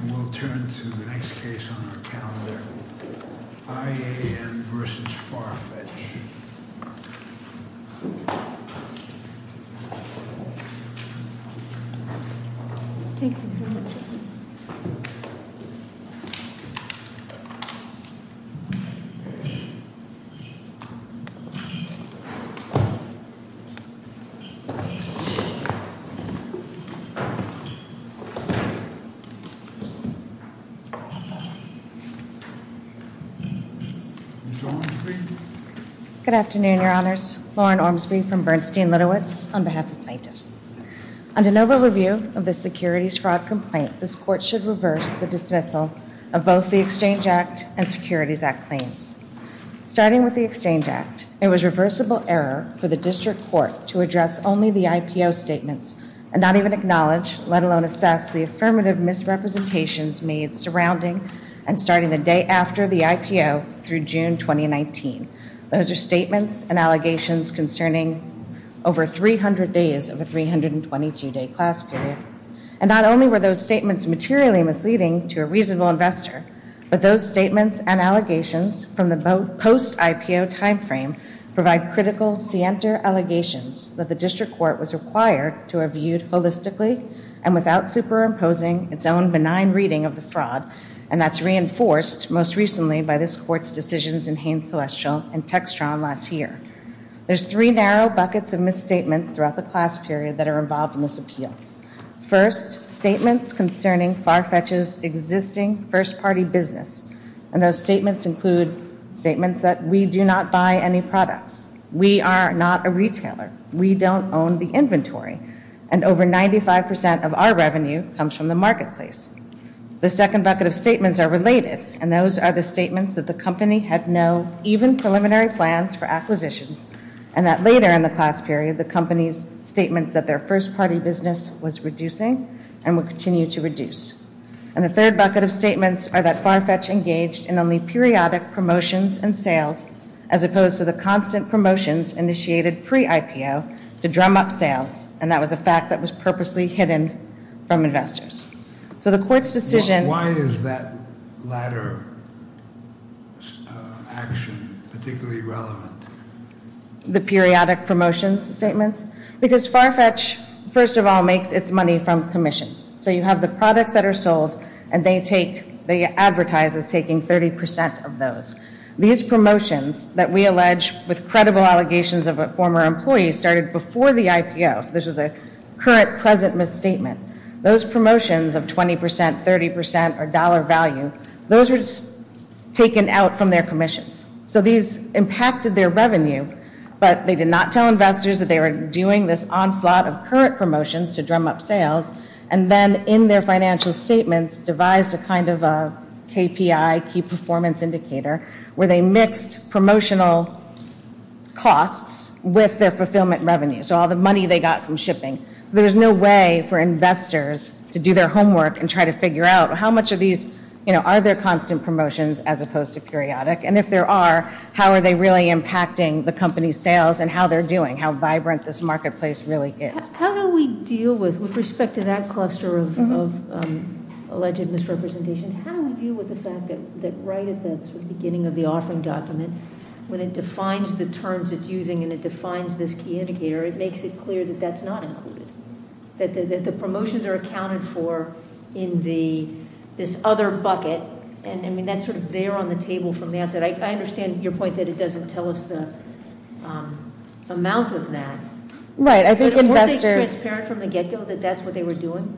And we'll turn to the next case on our calendar, IAN v. Farfetch. Ms. Ormsby. Good afternoon, Your Honors. Lauren Ormsby from Bernstein-Litowitz on behalf of plaintiffs. On de novo review of the securities fraud complaint, this court should reverse the dismissal of both the Exchange Act and Securities Act claims. Starting with the Exchange Act, it was reversible error for the district court to address only the IPO statements and not even acknowledge, let alone assess, the affirmative misrepresentations made surrounding and starting the day after the IPO through June 2019. Those are statements and allegations concerning over 300 days of a 322-day class period. And not only were those statements materially misleading to a reasonable investor, but those statements and allegations from the post-IPO timeframe provide critical, scienter allegations that the district court was required to have viewed holistically and without superimposing its own benign reading of the fraud. And that's reinforced most recently by this court's decisions in Haines-Celestial and Textron last year. There's three narrow buckets of misstatements throughout the class period that are involved in this appeal. First, statements concerning FARFETCH's existing first-party business. And those statements include statements that we do not buy any products. We are not a retailer. We don't own the inventory. And over 95% of our revenue comes from the marketplace. The second bucket of statements are related. And those are the statements that the company had no even preliminary plans for acquisitions. And that later in the class period, the company's statements that their first-party business was reducing and will continue to reduce. And the third bucket of statements are that FARFETCH engaged in only periodic promotions and sales, as opposed to the constant promotions initiated pre-IPO to drum up sales. And that was a fact that was purposely hidden from investors. So the court's decision... Why is that latter action particularly relevant? The periodic promotions statements? Because FARFETCH, first of all, makes its money from commissions. So you have the products that are sold, and they advertise as taking 30% of those. These promotions that we allege with credible allegations of a former employee started before the IPO. So this is a current present misstatement. Those promotions of 20%, 30% or dollar value, those were taken out from their commissions. So these impacted their revenue, but they did not tell investors that they were doing this onslaught of current promotions to drum up sales. And then in their financial statements devised a kind of a KPI, key performance indicator, where they mixed promotional costs with their fulfillment revenues, so all the money they got from shipping. So there's no way for investors to do their homework and try to figure out how much of these, you know, are there constant promotions as opposed to periodic? And if there are, how are they really impacting the company's sales and how they're doing, how vibrant this marketplace really is? How do we deal with, with respect to that cluster of alleged misrepresentations, how do we deal with the fact that right at the beginning of the offering document, when it defines the terms it's using and it defines this key indicator, it makes it clear that that's not included. That the promotions are accounted for in this other bucket, and I mean, that's sort of there on the table from the outset. I understand your point that it doesn't tell us the amount of that. Right, I think investors. Weren't they transparent from the get-go that that's what they were doing?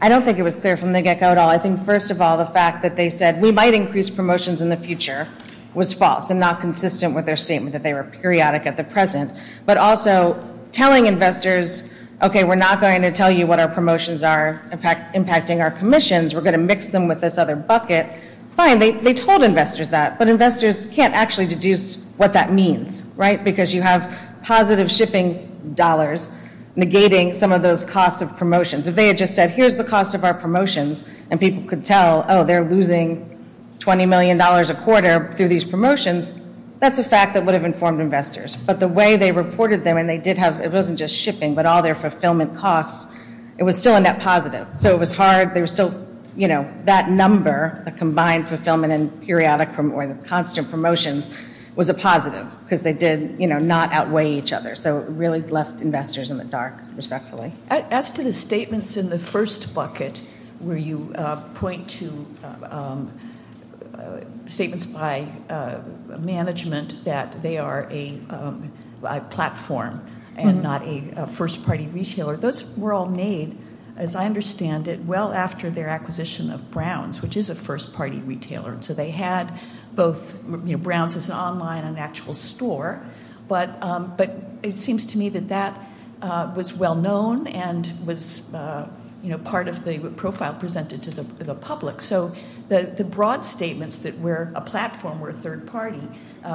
I don't think it was clear from the get-go at all. I think, first of all, the fact that they said we might increase promotions in the future was false and not consistent with their statement that they were periodic at the present. But also telling investors, okay, we're not going to tell you what our promotions are impacting our commissions. We're going to mix them with this other bucket. Fine, they told investors that, but investors can't actually deduce what that means, right, because you have positive shipping dollars negating some of those costs of promotions. If they had just said, here's the cost of our promotions, and people could tell, oh, they're losing $20 million a quarter through these promotions, that's a fact that would have informed investors. But the way they reported them, and they did have, it wasn't just shipping, but all their fulfillment costs, it was still a net positive. So it was hard, they were still, you know, that number, the combined fulfillment and periodic or the constant promotions was a positive because they did, you know, not outweigh each other. So it really left investors in the dark, respectfully. As to the statements in the first bucket where you point to statements by management that they are a platform and not a first-party retailer, those were all made, as I understand it, well after their acquisition of Browns, which is a first-party retailer. So they had both, you know, Browns is an online and actual store, but it seems to me that that was well-known and was, you know, part of the profile presented to the public. So the broad statements that we're a platform, we're a third-party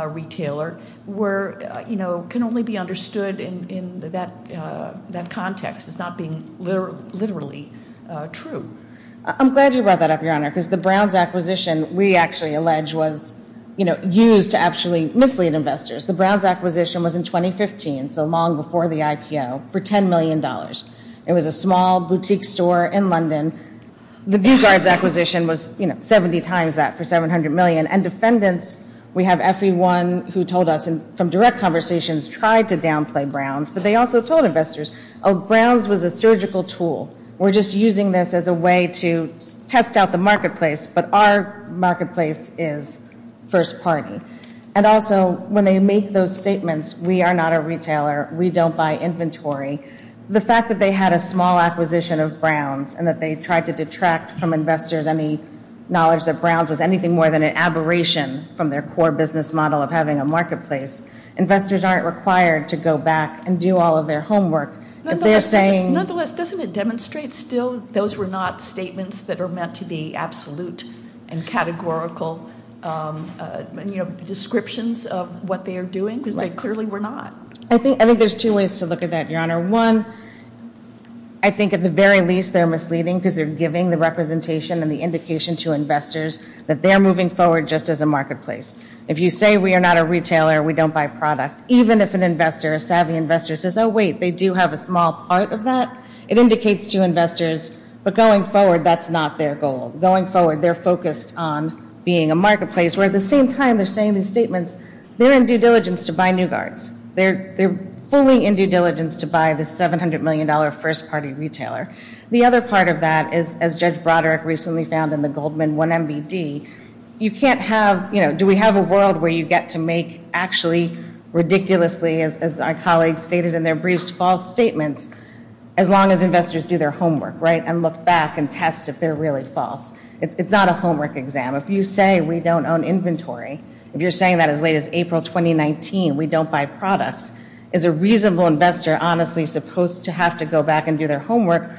retailer, were, you know, can only be understood in that context as not being literally true. I'm glad you brought that up, Your Honor, because the Browns acquisition, we actually allege, was, you know, used to actually mislead investors. The Browns acquisition was in 2015, so long before the IPO, for $10 million. It was a small boutique store in London. The Bugard's acquisition was, you know, 70 times that for $700 million. And defendants, we have everyone who told us from direct conversations, tried to downplay Browns, but they also told investors, oh, Browns was a surgical tool. We're just using this as a way to test out the marketplace, but our marketplace is first-party. And also, when they make those statements, we are not a retailer, we don't buy inventory, the fact that they had a small acquisition of Browns and that they tried to detract from investors any knowledge that Browns was anything more than an aberration from their core business model of having a marketplace. Investors aren't required to go back and do all of their homework. Nonetheless, doesn't it demonstrate still those were not statements that are meant to be absolute and categorical descriptions of what they are doing? Because they clearly were not. One, I think at the very least they're misleading because they're giving the representation and the indication to investors that they're moving forward just as a marketplace. If you say we are not a retailer, we don't buy product, even if an investor, a savvy investor, says, oh, wait, they do have a small part of that, it indicates to investors, but going forward, that's not their goal. Going forward, they're focused on being a marketplace, where at the same time they're saying these statements, they're in due diligence to buy New Guards. They're fully in due diligence to buy the $700 million first-party retailer. The other part of that is, as Judge Broderick recently found in the Goldman 1 MBD, you can't have, you know, do we have a world where you get to make actually ridiculously, as our colleagues stated in their briefs, false statements as long as investors do their homework, right, and look back and test if they're really false. It's not a homework exam. If you say we don't own inventory, if you're saying that as late as April 2019, we don't buy products, is a reasonable investor honestly supposed to have to go back and do their homework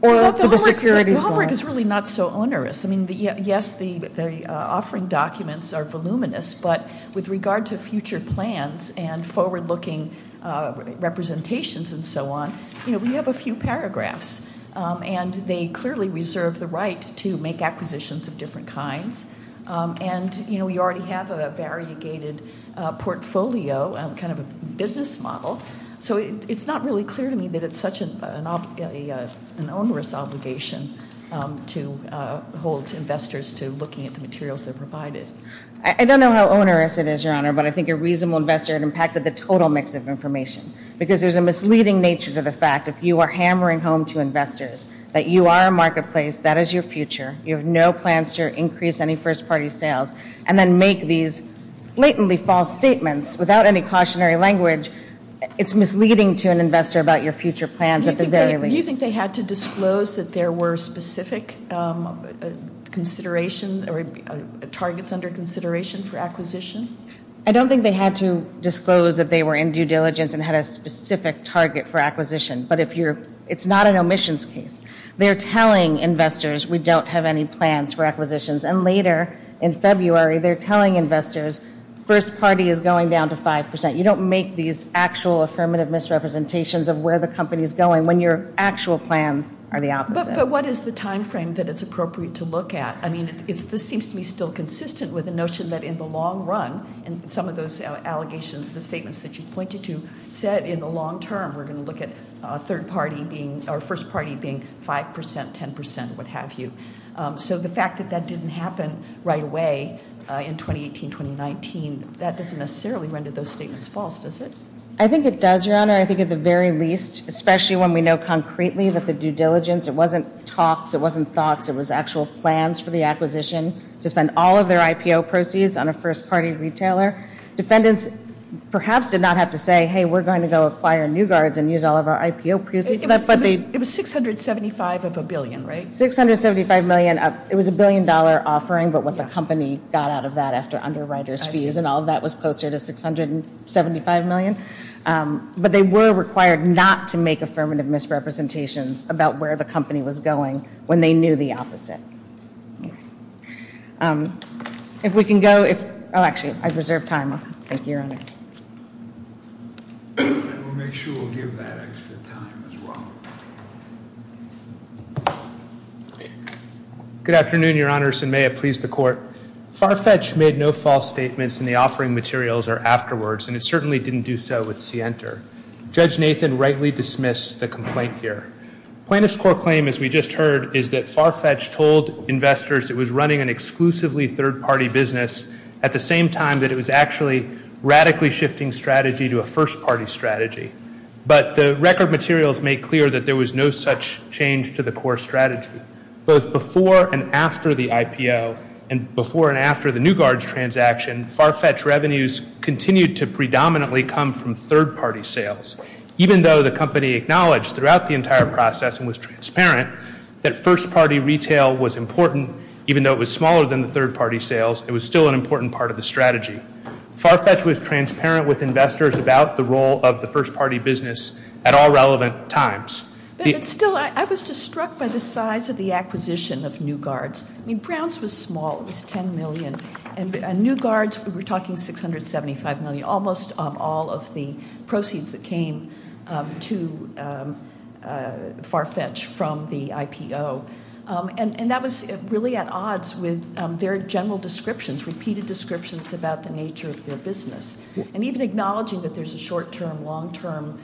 or look at the securities law? The homework is really not so onerous. I mean, yes, the offering documents are voluminous, but with regard to future plans and forward-looking representations and so on, you know, we have a few paragraphs, and they clearly reserve the right to make acquisitions of different kinds, and, you know, we already have a variegated portfolio, kind of a business model, so it's not really clear to me that it's such an onerous obligation to hold investors to looking at the materials they're provided. I don't know how onerous it is, Your Honor, but I think a reasonable investor impacted the total mix of information because there's a misleading nature to the fact if you are hammering home to investors that you are a marketplace, that is your future, you have no plans to increase any first-party sales, and then make these blatantly false statements without any cautionary language, it's misleading to an investor about your future plans at the very least. Do you think they had to disclose that there were specific considerations or targets under consideration for acquisition? I don't think they had to disclose that they were in due diligence and had a specific target for acquisition, but it's not an omissions case. They're telling investors we don't have any plans for acquisitions, and later in February they're telling investors first party is going down to 5%. You don't make these actual affirmative misrepresentations of where the company is going when your actual plans are the opposite. But what is the timeframe that it's appropriate to look at? I mean, this seems to me still consistent with the notion that in the long run, and some of those allegations, the statements that you pointed to said in the long term, we're going to look at first party being 5%, 10%, what have you. So the fact that that didn't happen right away in 2018, 2019, that doesn't necessarily render those statements false, does it? I think it does, Your Honor. I think at the very least, especially when we know concretely that the due diligence, it wasn't talks, it wasn't thoughts, it was actual plans for the acquisition to spend all of their IPO proceeds on a first party retailer. Defendants perhaps did not have to say, hey, we're going to go acquire new guards and use all of our IPO proceeds. It was $675 of a billion, right? $675 million. It was a billion dollar offering, but what the company got out of that after underwriters fees and all of that was closer to $675 million. But they were required not to make affirmative misrepresentations about where the company was going when they knew the opposite. If we can go, oh actually, I reserve time. Thank you, Your Honor. We'll make sure we'll give that extra time as well. Good afternoon, Your Honors, and may it please the Court. Farfetch made no false statements in the offering materials or afterwards and it certainly didn't do so with Sienter. Judge Nathan rightly dismissed the complaint here. Plaintiff's Court claim, as we just heard, is that Farfetch told investors it was running an exclusively third party business at the same time that it was actually radically shifting strategy to a first party strategy. But the record materials make clear that there was no such change to the core strategy. Both before and after the IPO and before and after the new guards transaction, Farfetch revenues continued to predominantly come from third party sales. Even though the company acknowledged throughout the entire process and was transparent that first party retail was important, even though it was smaller than the third party sales, it was still an important part of the strategy. Farfetch was transparent with investors about the role of the first party business at all relevant times. But still, I was just struck by the size of the acquisition of new guards. I mean, Browns was small. It was $10 million. And new guards, we're talking $675 million, almost of all of the proceeds that came to Farfetch from the IPO. And that was really at odds with their general descriptions, repeated descriptions about the nature of their business, and even acknowledging that there's a short-term, long-term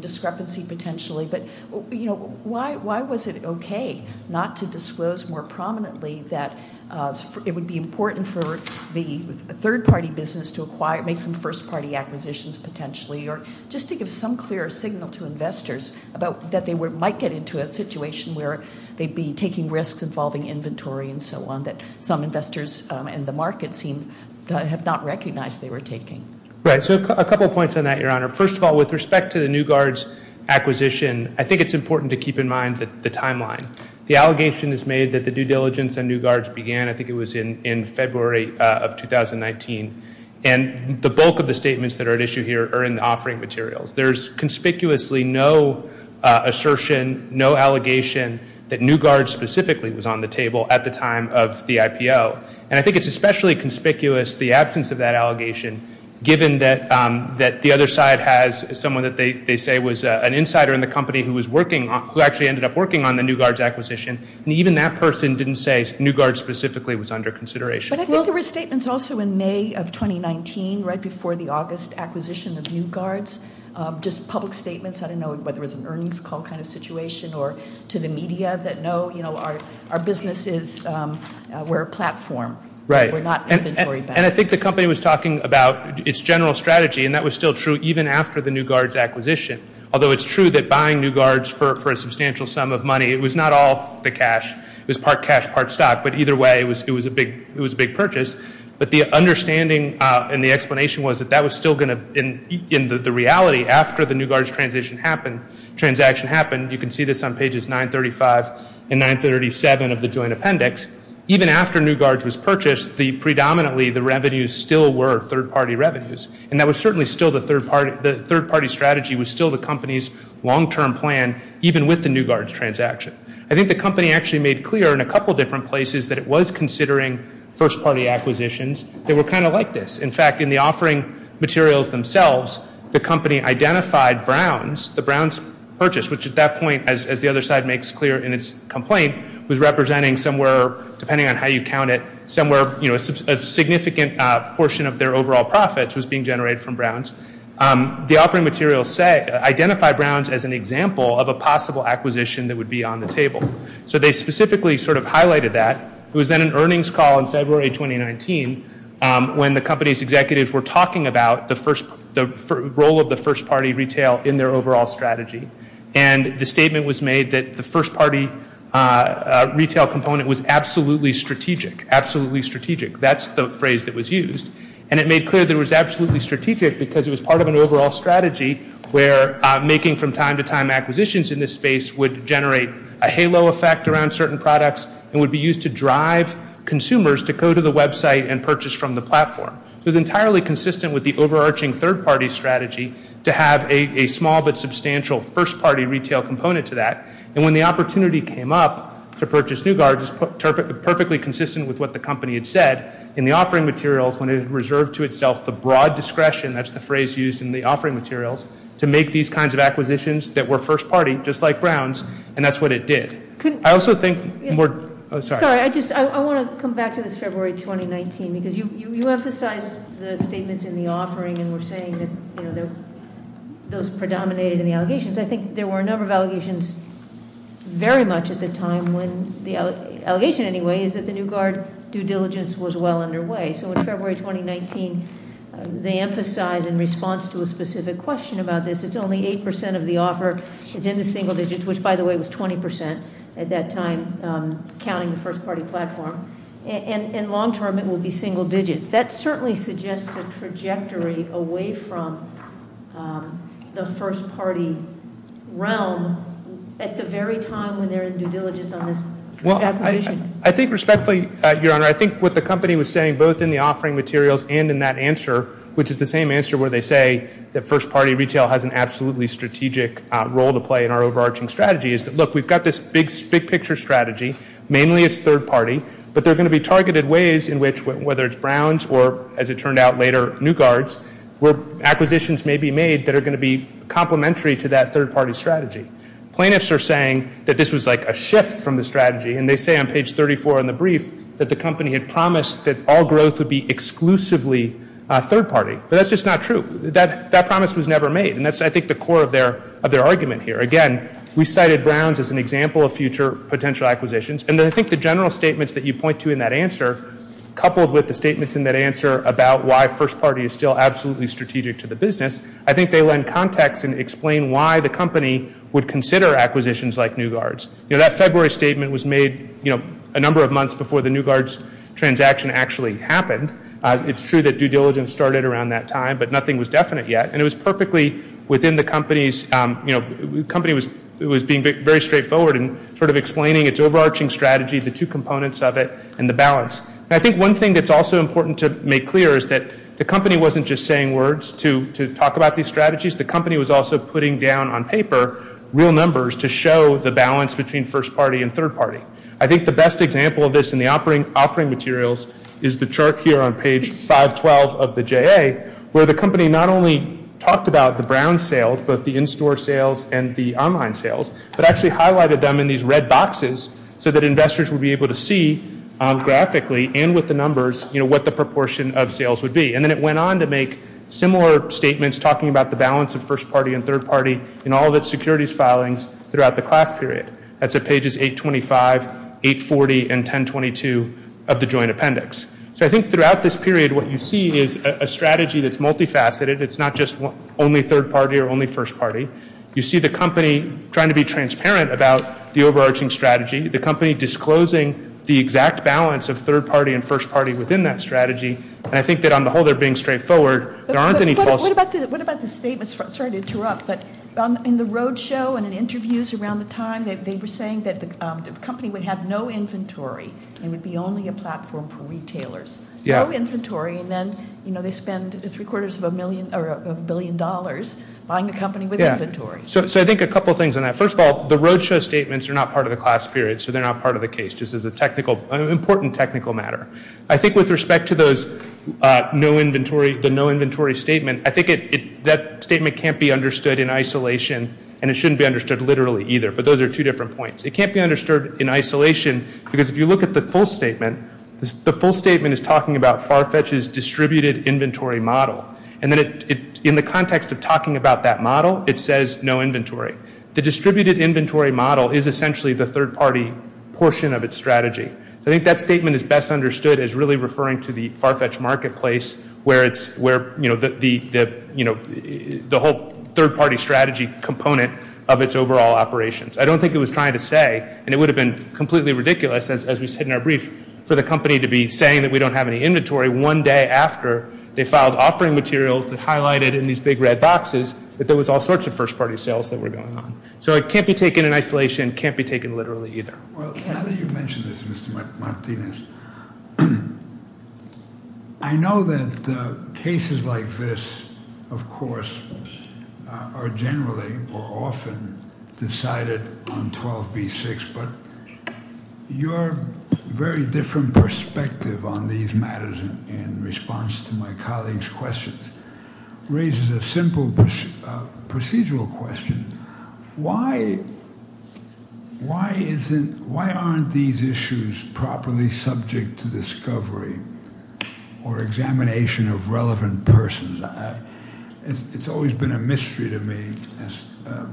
discrepancy potentially. But, you know, why was it okay not to disclose more prominently that it would be important for the third party business to make some first party acquisitions potentially or just to give some clear signal to investors that they might get into a situation where they'd be taking risks involving inventory and so on that some investors in the market have not recognized they were taking? Right. So a couple of points on that, Your Honor. First of all, with respect to the new guards acquisition, I think it's important to keep in mind the timeline. The allegation is made that the due diligence on new guards began, I think it was in February of 2019. And the bulk of the statements that are at issue here are in the offering materials. There's conspicuously no assertion, no allegation, that new guards specifically was on the table at the time of the IPO. And I think it's especially conspicuous the absence of that allegation, given that the other side has someone that they say was an insider in the company who actually ended up working on the new guards acquisition. And even that person didn't say new guards specifically was under consideration. But I think there were statements also in May of 2019, right before the August acquisition of new guards, just public statements, I don't know whether it was an earnings call kind of situation or to the media that, no, you know, our business is, we're a platform. Right. We're not inventory banks. And I think the company was talking about its general strategy, and that was still true even after the new guards acquisition. Although it's true that buying new guards for a substantial sum of money, it was not all the cash. It was part cash, part stock. But either way, it was a big purchase. But the understanding and the explanation was that that was still going to, in the reality, after the new guards transaction happened, you can see this on pages 935 and 937 of the joint appendix, even after new guards was purchased, predominantly the revenues still were third-party revenues. And that was certainly still the third-party strategy was still the company's long-term plan, even with the new guards transaction. I think the company actually made clear in a couple different places that it was considering first-party acquisitions that were kind of like this. In fact, in the offering materials themselves, the company identified Browns, the Browns purchase, which at that point, as the other side makes clear in its complaint, was representing somewhere, depending on how you count it, somewhere, you know, a significant portion of their overall profits was being generated from Browns. The offering materials identify Browns as an example of a possible acquisition that would be on the table. So they specifically sort of highlighted that. It was then an earnings call in February 2019, when the company's executives were talking about the role of the first-party retail in their overall strategy. And the statement was made that the first-party retail component was absolutely strategic, absolutely strategic. That's the phrase that was used. And it made clear that it was absolutely strategic because it was part of an overall strategy where making from time to time acquisitions in this space would generate a halo effect around certain products and would be used to drive consumers to go to the website and purchase from the platform. It was entirely consistent with the overarching third-party strategy to have a small but substantial first-party retail component to that. And when the opportunity came up to purchase Newgard, it was perfectly consistent with what the company had said in the offering materials when it reserved to itself the broad discretion, that's the phrase used in the offering materials, to make these kinds of acquisitions that were first-party, just like Browns, and that's what it did. I also think- Sorry, I want to come back to this February 2019, because you emphasized the statements in the offering and were saying that those predominated in the allegations. I think there were a number of allegations very much at the time, the allegation anyway is that the Newgard due diligence was well underway. So in February 2019, they emphasize in response to a specific question about this, it's only 8% of the offer, it's in the single digits, which by the way was 20% at that time, counting the first-party platform, and long-term it will be single digits. That certainly suggests a trajectory away from the first-party realm at the very time when they're in due diligence on this acquisition. Well, I think respectfully, Your Honor, I think what the company was saying, both in the offering materials and in that answer, which is the same answer where they say that first-party retail has an absolutely strategic role to play in our overarching strategy, is that, look, we've got this big-picture strategy, mainly it's third-party, but there are going to be targeted ways in which, whether it's Browns or, as it turned out later, Newgards, where acquisitions may be made that are going to be complementary to that third-party strategy. Plaintiffs are saying that this was like a shift from the strategy, and they say on page 34 in the brief that the company had promised that all growth would be exclusively third-party, but that's just not true. That promise was never made, and that's, I think, the core of their argument here. Again, we cited Browns as an example of future potential acquisitions, and I think the general statements that you point to in that answer, coupled with the statements in that answer about why first-party is still absolutely strategic to the business, I think they lend context and explain why the company would consider acquisitions like Newgards. You know, that February statement was made, you know, a number of months before the Newgards transaction actually happened. It's true that due diligence started around that time, but nothing was definite yet, and it was perfectly within the company's, you know, the company was being very straightforward in sort of explaining its overarching strategy, the two components of it, and the balance. And I think one thing that's also important to make clear is that the company wasn't just saying words to talk about these strategies. The company was also putting down on paper real numbers to show the balance between first-party and third-party. I think the best example of this in the offering materials is the chart here on page 512 of the JA, where the company not only talked about the Browns sales, both the in-store sales and the online sales, but actually highlighted them in these red boxes so that investors would be able to see graphically and with the numbers, you know, what the proportion of sales would be. And then it went on to make similar statements talking about the balance of first-party and third-party in all of its securities filings throughout the class period. That's at pages 825, 840, and 1022 of the joint appendix. So I think throughout this period what you see is a strategy that's multifaceted. It's not just only third-party or only first-party. You see the company trying to be transparent about the overarching strategy, the company disclosing the exact balance of third-party and first-party within that strategy, and I think that on the whole they're being straightforward. There aren't any false statements. What about the statements? Sorry to interrupt, but in the roadshow and in interviews around the time, they were saying that the company would have no inventory and would be only a platform for retailers. No inventory, and then, you know, they spend three-quarters of a billion dollars buying a company with inventory. So I think a couple things on that. First of all, the roadshow statements are not part of the class period, so they're not part of the case just as an important technical matter. I think with respect to those no inventory, the no inventory statement, I think that statement can't be understood in isolation, and it shouldn't be understood literally either, but those are two different points. It can't be understood in isolation because if you look at the full statement, the full statement is talking about FARFETCH's distributed inventory model, and then in the context of talking about that model, it says no inventory. The distributed inventory model is essentially the third-party portion of its strategy. I think that statement is best understood as really referring to the FARFETCH marketplace where it's, you know, the whole third-party strategy component of its overall operations. I don't think it was trying to say, and it would have been completely ridiculous, as we said in our brief, for the company to be saying that we don't have any inventory one day after they filed offering materials that highlighted in these big red boxes that there was all sorts of first-party sales that were going on. So it can't be taken in isolation. It can't be taken literally either. Well, now that you mention this, Mr. Martinez, I know that cases like this, of course, are generally or often decided on 12B6, but your very different perspective on these matters in response to my colleague's questions raises a simple procedural question. Why aren't these issues properly subject to discovery or examination of relevant persons? It's always been a mystery to me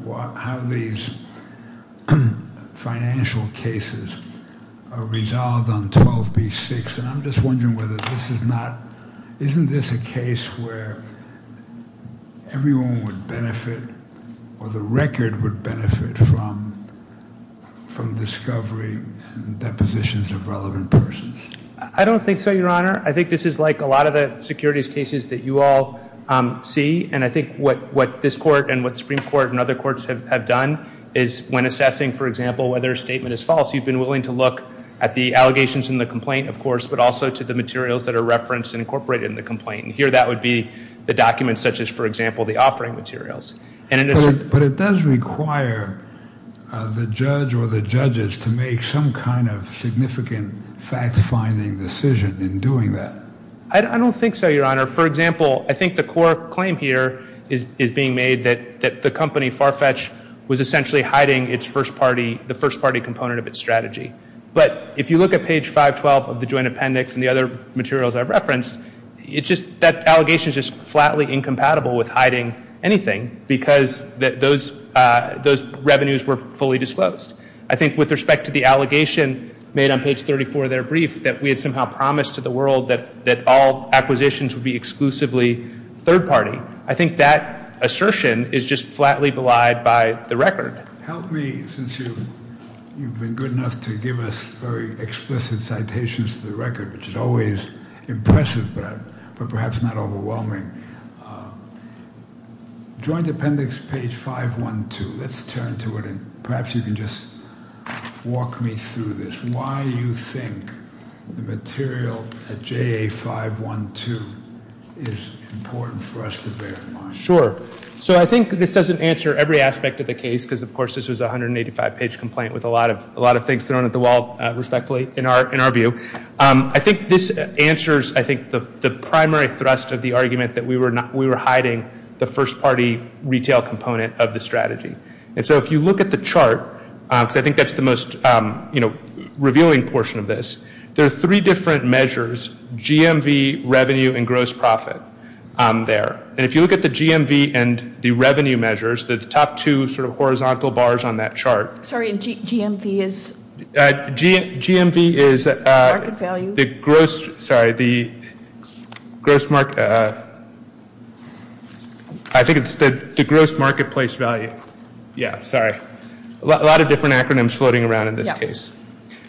how these financial cases are resolved on 12B6, and I'm just wondering whether this is not—isn't this a case where everyone would benefit or the record would benefit from discovery and depositions of relevant persons? I don't think so, Your Honor. I think this is like a lot of the securities cases that you all see, and I think what this Court and what the Supreme Court and other courts have done is when assessing, for example, whether a statement is false, you've been willing to look at the allegations in the complaint, of course, but also to the materials that are referenced and incorporated in the complaint. Here that would be the documents such as, for example, the offering materials. But it does require the judge or the judges to make some kind of significant fact-finding decision in doing that. I don't think so, Your Honor. For example, I think the core claim here is being made that the company Farfetch was essentially hiding the first-party component of its strategy. But if you look at page 512 of the joint appendix and the other materials I've referenced, that allegation is just flatly incompatible with hiding anything because those revenues were fully disclosed. I think with respect to the allegation made on page 34 of their brief that we had somehow promised to the world that all acquisitions would be exclusively third-party, I think that assertion is just flatly belied by the record. Help me, since you've been good enough to give us very explicit citations to the record, which is always impressive but perhaps not overwhelming. Joint appendix, page 512, let's turn to it, and perhaps you can just walk me through this. Why do you think the material at JA 512 is important for us to bear in mind? Sure. So I think this doesn't answer every aspect of the case because, of course, this was a 185-page complaint with a lot of things thrown at the wall, respectfully, in our view. I think this answers, I think, the primary thrust of the argument that we were hiding the first-party retail component of the strategy. And so if you look at the chart, because I think that's the most revealing portion of this, there are three different measures, GMV, revenue, and gross profit there. And if you look at the GMV and the revenue measures, the top two sort of horizontal bars on that chart. Sorry, GMV is? Market value. The gross, sorry, the gross market, I think it's the gross marketplace value. Yeah, sorry. A lot of different acronyms floating around in this case.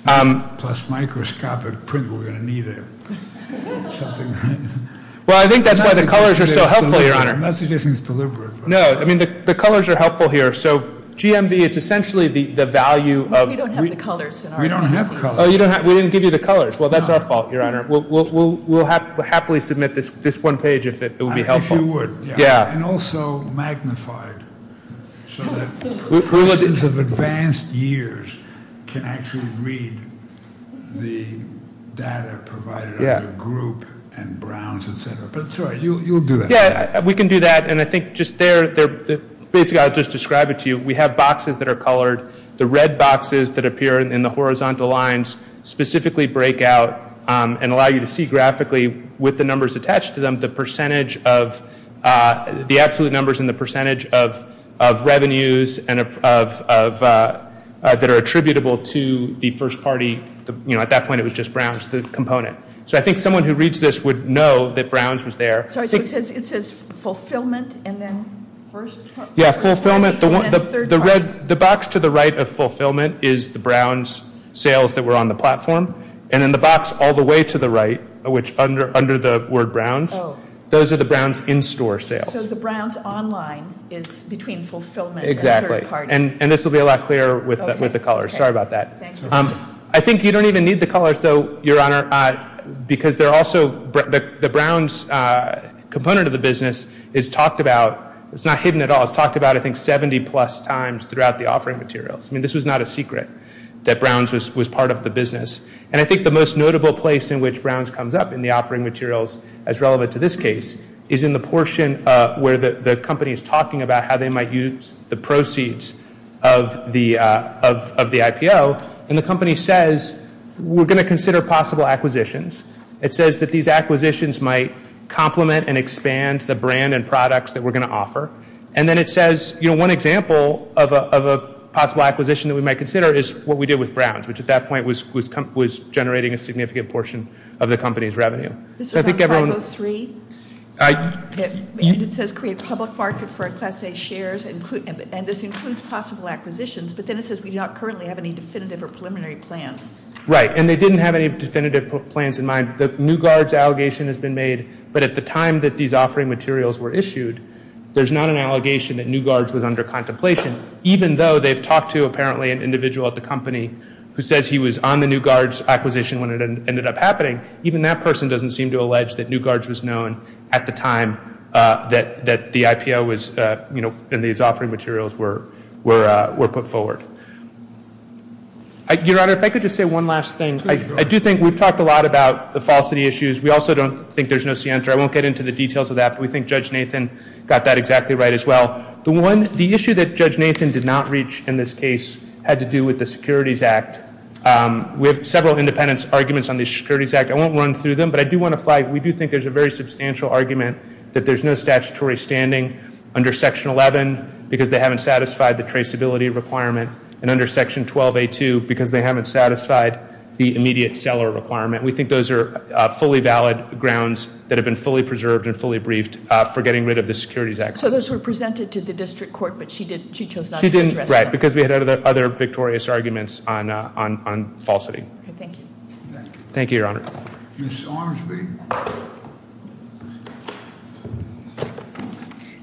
Plus microscopic print, we're going to need something. Well, I think that's why the colors are so helpful, Your Honor. I'm not suggesting it's deliberate. No, I mean the colors are helpful here. So GMV, it's essentially the value of- We don't have colors. We didn't give you the colors. Well, that's our fault, Your Honor. We'll happily submit this one page if it would be helpful. If you would. Yeah. And also magnified so that persons of advanced years can actually read the data provided under group and browns, et cetera. But, sorry, you'll do that. Yeah, we can do that. And I think just there, basically I'll just describe it to you. We have boxes that are colored. The red boxes that appear in the horizontal lines specifically break out and allow you to see graphically with the numbers attached to them, the percentage of the absolute numbers and the percentage of revenues that are attributable to the first party. You know, at that point it was just browns, the component. So I think someone who reads this would know that browns was there. Sorry, so it says fulfillment and then first- Yeah, fulfillment. The box to the right of fulfillment is the browns sales that were on the platform. And in the box all the way to the right, which under the word browns, those are the browns in-store sales. So the browns online is between fulfillment and third party. Exactly. And this will be a lot clearer with the colors. Sorry about that. I think you don't even need the colors, though, Your Honor, because the browns component of the business is talked about. It's not hidden at all. It's talked about, I think, 70-plus times throughout the offering materials. I mean, this was not a secret that browns was part of the business. And I think the most notable place in which browns comes up in the offering materials, as relevant to this case, is in the portion where the company is talking about how they might use the proceeds of the IPO. And the company says, we're going to consider possible acquisitions. It says that these acquisitions might complement and expand the brand and products that we're going to offer. And then it says, you know, one example of a possible acquisition that we might consider is what we did with browns, which at that point was generating a significant portion of the company's revenue. This is on 503. And it says create public market for a class A shares. And this includes possible acquisitions. But then it says we do not currently have any definitive or preliminary plans. Right. And they didn't have any definitive plans in mind. The New Guards allegation has been made. But at the time that these offering materials were issued, there's not an allegation that New Guards was under contemplation. Even though they've talked to, apparently, an individual at the company who says he was on the New Guards acquisition when it ended up happening, even that person doesn't seem to allege that New Guards was known at the time that the IPO was, you know, and these offering materials were put forward. Your Honor, if I could just say one last thing. I do think we've talked a lot about the falsity issues. We also don't think there's no scienter. I won't get into the details of that, but we think Judge Nathan got that exactly right as well. The issue that Judge Nathan did not reach in this case had to do with the Securities Act. We have several independent arguments on the Securities Act. I won't run through them, but I do want to flag, we do think there's a very substantial argument that there's no statutory standing under Section 11 because they haven't satisfied the traceability requirement, and under Section 12A2 because they haven't satisfied the immediate seller requirement. We think those are fully valid grounds that have been fully preserved and fully briefed for getting rid of the Securities Act. So those were presented to the district court, but she chose not to address them. Right, because we had other victorious arguments on falsity. Thank you. Thank you, Your Honor. Ms. Armsby,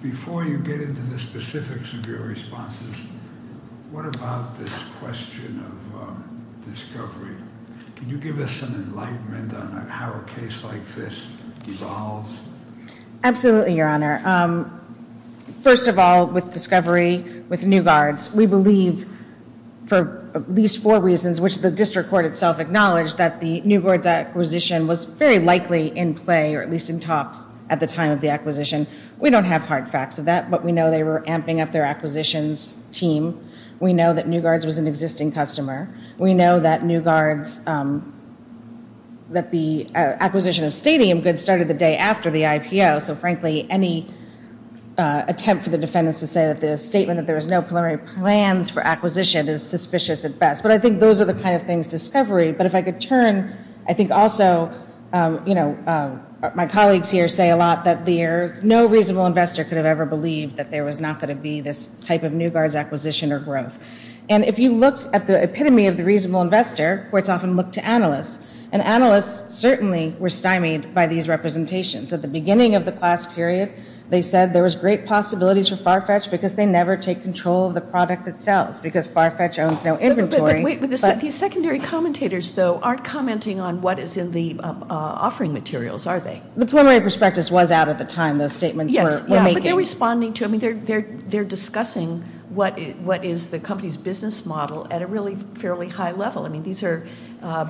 before you get into the specifics of your responses, what about this question of discovery? Can you give us an enlightenment on how a case like this evolves? Absolutely, Your Honor. First of all, with discovery, with New Guards, we believe for at least four reasons, which the district court itself acknowledged that the New Guards acquisition was very likely in play or at least in talks at the time of the acquisition. We don't have hard facts of that, but we know they were amping up their acquisitions team. We know that New Guards was an existing customer. We know that New Guards, that the acquisition of stadium goods started the day after the IPO, so frankly, any attempt for the defendants to say that the statement that there was no preliminary plans for acquisition is suspicious at best. But I think those are the kind of things, discovery. But if I could turn, I think also, you know, my colleagues here say a lot that there's no reasonable investor could have ever believed that there was not going to be this type of New Guards acquisition or growth. And if you look at the epitome of the reasonable investor, courts often look to analysts, and analysts certainly were stymied by these representations. At the beginning of the class period, they said there was great possibilities for Farfetch because they never take control of the product itself because Farfetch owns no inventory. But wait, these secondary commentators, though, aren't commenting on what is in the offering materials, are they? The preliminary prospectus was out at the time those statements were making. Yes, but they're responding to, I mean, they're discussing what is the company's business model at a really fairly high level. I mean, these are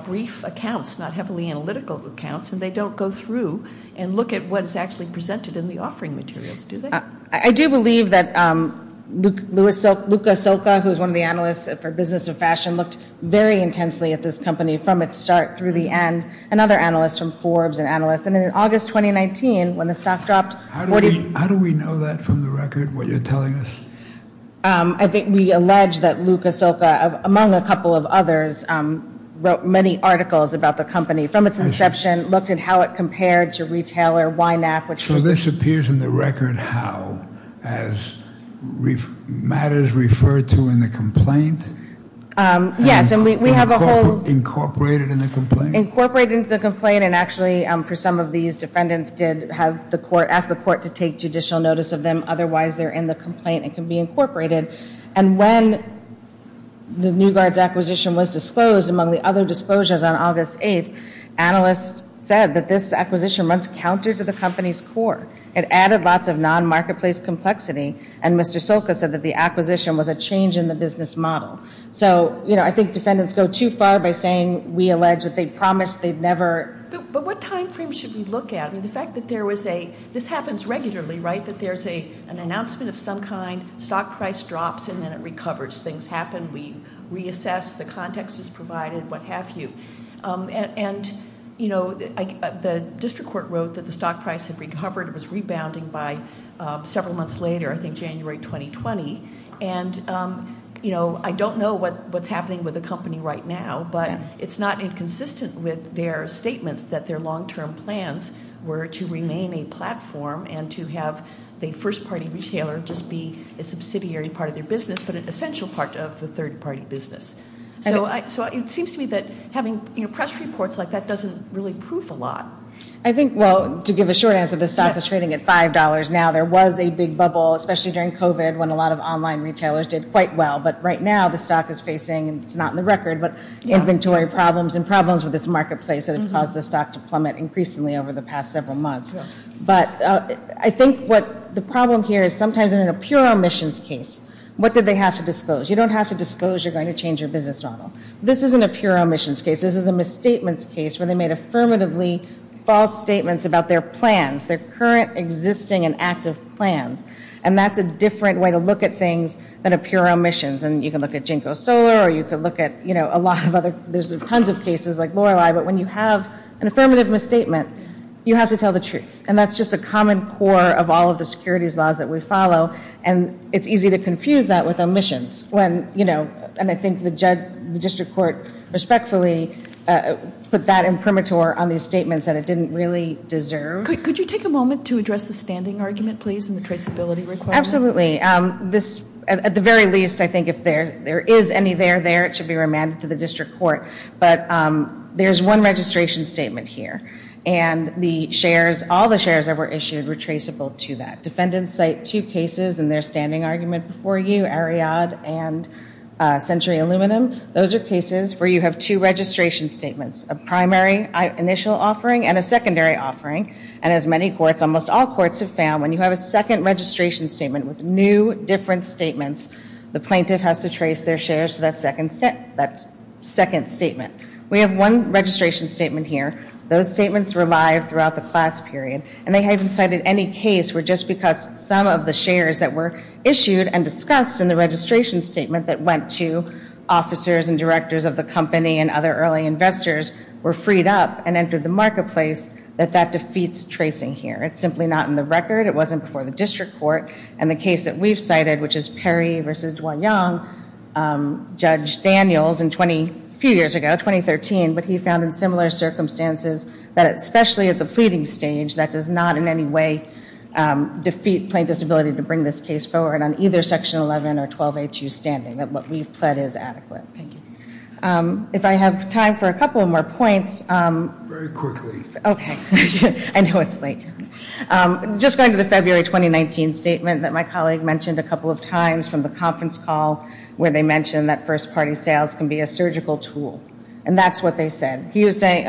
brief accounts, not heavily analytical accounts, and they don't go through and look at what is actually presented in the offering materials, do they? I do believe that Luca Silca, who is one of the analysts for business and fashion looked very intensely at this company from its start through the end, and other analysts from Forbes and analysts. And in August 2019, when the stock dropped 40. How do we know that from the record, what you're telling us? I think we allege that Luca Silca, among a couple of others, wrote many articles about the company from its inception, looked at how it compared to retailer YNAC. So this appears in the record how, as matters referred to in the complaint? Yes, and we have a whole... Incorporated in the complaint? Incorporated in the complaint, and actually for some of these, defendants did ask the court to take judicial notice of them. Otherwise, they're in the complaint and can be incorporated. And when the New Guard's acquisition was disclosed, among the other disclosures on August 8th, analysts said that this acquisition runs counter to the company's core. It added lots of non-marketplace complexity, and Mr. Silca said that the acquisition was a change in the business model. So, you know, I think defendants go too far by saying we allege that they promised they'd never... But what time frame should we look at? I mean, the fact that there was a...this happens regularly, right? That there's an announcement of some kind, stock price drops, and then it recovers. Things happen, we reassess, the context is provided, what have you. And, you know, the district court wrote that the stock price had recovered. It was rebounding by several months later, I think January 2020. And, you know, I don't know what's happening with the company right now, but it's not inconsistent with their statements that their long-term plans were to remain a platform and to have the first-party retailer just be a subsidiary part of their business, but an essential part of the third-party business. So it seems to me that having, you know, press reports like that doesn't really prove a lot. I think, well, to give a short answer, the stock is trading at $5 now. There was a big bubble, especially during COVID, when a lot of online retailers did quite well. But right now the stock is facing, and it's not in the record, but inventory problems and problems with its marketplace that have caused the stock to plummet increasingly over the past several months. But I think what the problem here is sometimes they're in a pure omissions case. What did they have to disclose? You don't have to disclose you're going to change your business model. This isn't a pure omissions case. This is a misstatements case where they made affirmatively false statements about their plans, their current existing and active plans. And that's a different way to look at things than a pure omissions. And you can look at JNCO Solar, or you can look at, you know, a lot of other. There's tons of cases like Lorelei. But when you have an affirmative misstatement, you have to tell the truth. And that's just a common core of all of the securities laws that we follow. And it's easy to confuse that with omissions when, you know, and I think the district court respectfully put that imprimatur on these statements that it didn't really deserve. Could you take a moment to address the standing argument, please, and the traceability requirement? Absolutely. At the very least, I think if there is any there there, it should be remanded to the district court. But there's one registration statement here. And the shares, all the shares that were issued were traceable to that. Defendants cite two cases in their standing argument before you, Ariad and Century Aluminum. Those are cases where you have two registration statements, a primary initial offering and a secondary offering. And as many courts, almost all courts have found, when you have a second registration statement with new different statements, the plaintiff has to trace their shares to that second statement. We have one registration statement here. Those statements were live throughout the class period. And they haven't cited any case where just because some of the shares that were issued and discussed in the registration statement that went to officers and directors of the company and other early investors were freed up and entered the marketplace that that defeats tracing here. It's simply not in the record. It wasn't before the district court. And the case that we've cited, which is Perry v. Dwayne Young, Judge Daniels, a few years ago, 2013, but he found in similar circumstances, that especially at the pleading stage, that does not in any way defeat plaintiff's ability to bring this case forward on either Section 11 or 12HU standing, that what we've pled is adequate. Thank you. If I have time for a couple more points. Very quickly. Okay. I know it's late. Just going to the February 2019 statement that my colleague mentioned a couple of times from the conference call where they mentioned that first-party sales can be a surgical tool. And that's what they said. He was saying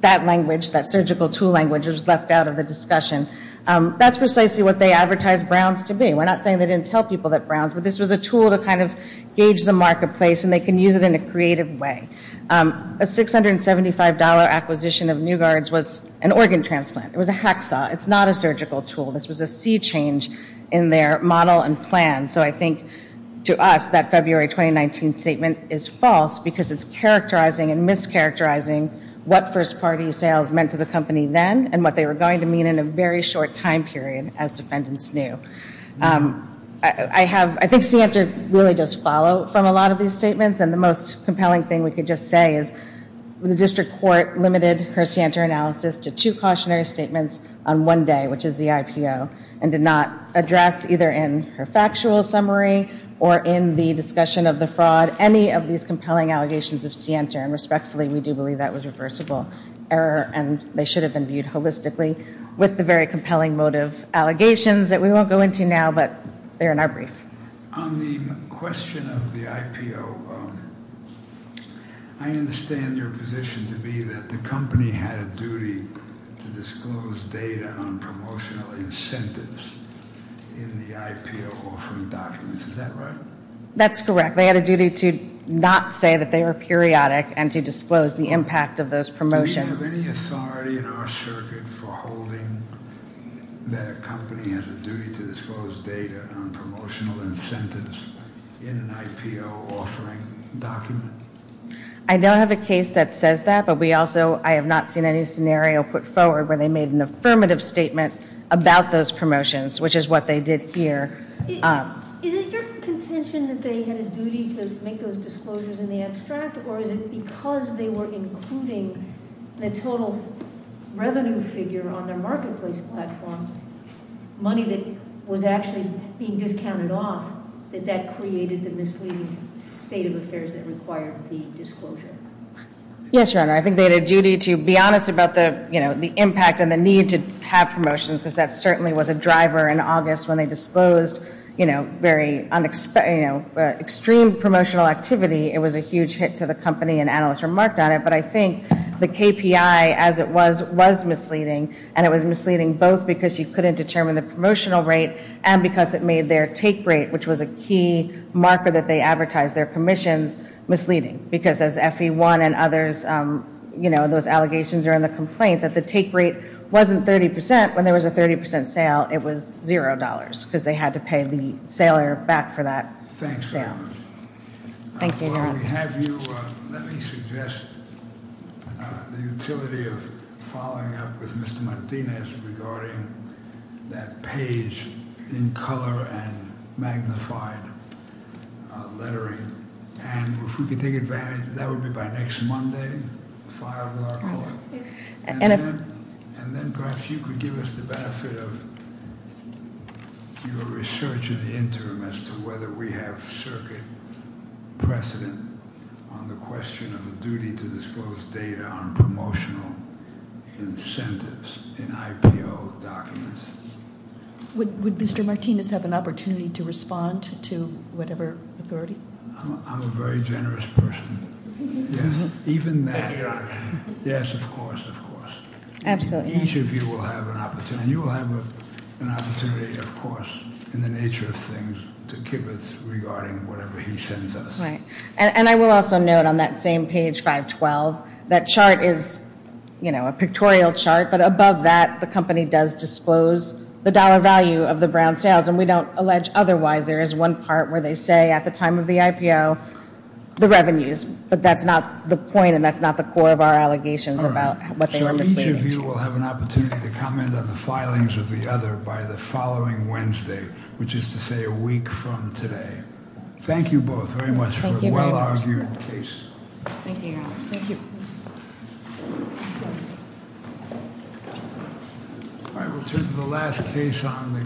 that language, that surgical tool language was left out of the discussion. That's precisely what they advertised Browns to be. We're not saying they didn't tell people that Browns, but this was a tool to kind of gauge the marketplace and they can use it in a creative way. A $675 acquisition of Nugard's was an organ transplant. It was a hacksaw. It's not a surgical tool. This was a sea change in their model and plan. So I think to us that February 2019 statement is false because it's characterizing and mischaracterizing what first-party sales meant to the company then and what they were going to mean in a very short time period as defendants knew. I think Scientra really does follow from a lot of these statements and the most compelling thing we could just say is the district court limited her Scientra analysis to two cautionary statements on one day, which is the IPO, and did not address either in her factual summary or in the discussion of the fraud any of these compelling allegations of Scientra and respectfully we do believe that was a reversible error and they should have been viewed holistically with the very compelling motive allegations that we won't go into now, but they're in our brief. On the question of the IPO, I understand your position to be that the company had a duty to disclose data on promotional incentives in the IPO offering documents. Is that right? That's correct. They had a duty to not say that they were periodic and to disclose the impact of those promotions. Do we have any authority in our circuit for holding that a company has a duty to disclose data on promotional incentives in an IPO offering document? I don't have a case that says that, but we also, I have not seen any scenario put forward where they made an affirmative statement about those promotions, which is what they did here. Is it your contention that they had a duty to make those disclosures in the abstract or is it because they were including the total revenue figure on their marketplace platform, money that was actually being discounted off, that that created the misleading state of affairs that required the disclosure? Yes, Your Honor. I think they had a duty to be honest about the impact and the need to have promotions because that certainly was a driver in August when they disclosed extreme promotional activity. It was a huge hit to the company and analysts remarked on it, but I think the KPI as it was, was misleading and it was misleading both because you couldn't determine the promotional rate and because it made their take rate, which was a key marker that they advertised their commissions, misleading. Because as FE1 and others, you know, those allegations are in the complaint that the take rate wasn't 30%. When there was a 30% sale, it was $0 because they had to pay the sailor back for that sale. Thanks, Your Honor. Thank you, Your Honor. We have you. Let me suggest the utility of following up with Mr. Martinez regarding that page in color and magnified lettering. And if we could take advantage of that, that would be by next Monday, five o'clock. And then perhaps you could give us the benefit of your research in the interim as to whether we have circuit precedent on the question of a duty to disclose data on promotional incentives in IPO documents. Would Mr. Martinez have an opportunity to respond to whatever authority? I'm a very generous person. Yes, even that. Thank you, Your Honor. Yes, of course, of course. Absolutely. Each of you will have an opportunity. And you will have an opportunity, of course, in the nature of things to give us regarding whatever he sends us. Right. And I will also note on that same page, 512, that chart is, you know, a pictorial chart. But above that, the company does disclose the dollar value of the brown sales. And we don't allege otherwise. There is one part where they say at the time of the IPO, the revenues. But that's not the point, and that's not the core of our allegations about what they were misleading us. So each of you will have an opportunity to comment on the filings of the other by the following Wednesday, which is to say a week from today. Thank you both very much for a well-argued case. Thank you, Your Honor. Thank you. All right. We'll turn to the last case on the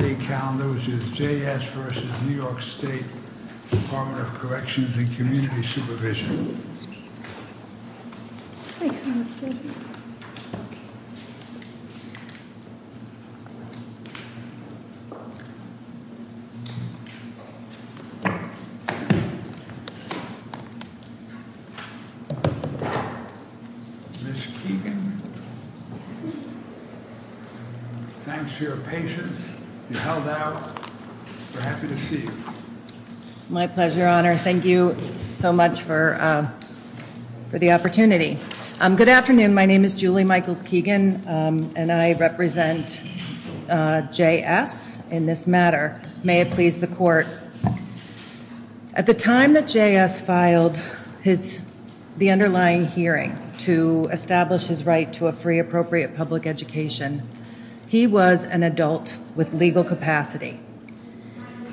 day calendar, which is J.S. v. New York State Department of Corrections and Community Supervision. Ms. Keegan. Thanks for your patience. You held out. We're happy to see you. My pleasure, Your Honor. Thank you so much for the opportunity. Good afternoon. My name is Julie Michaels-Keegan, and I represent J.S. in this matter. May it please the Court. At the time that J.S. filed the underlying hearing to establish his right to a free, appropriate public education, he was an adult with legal capacity.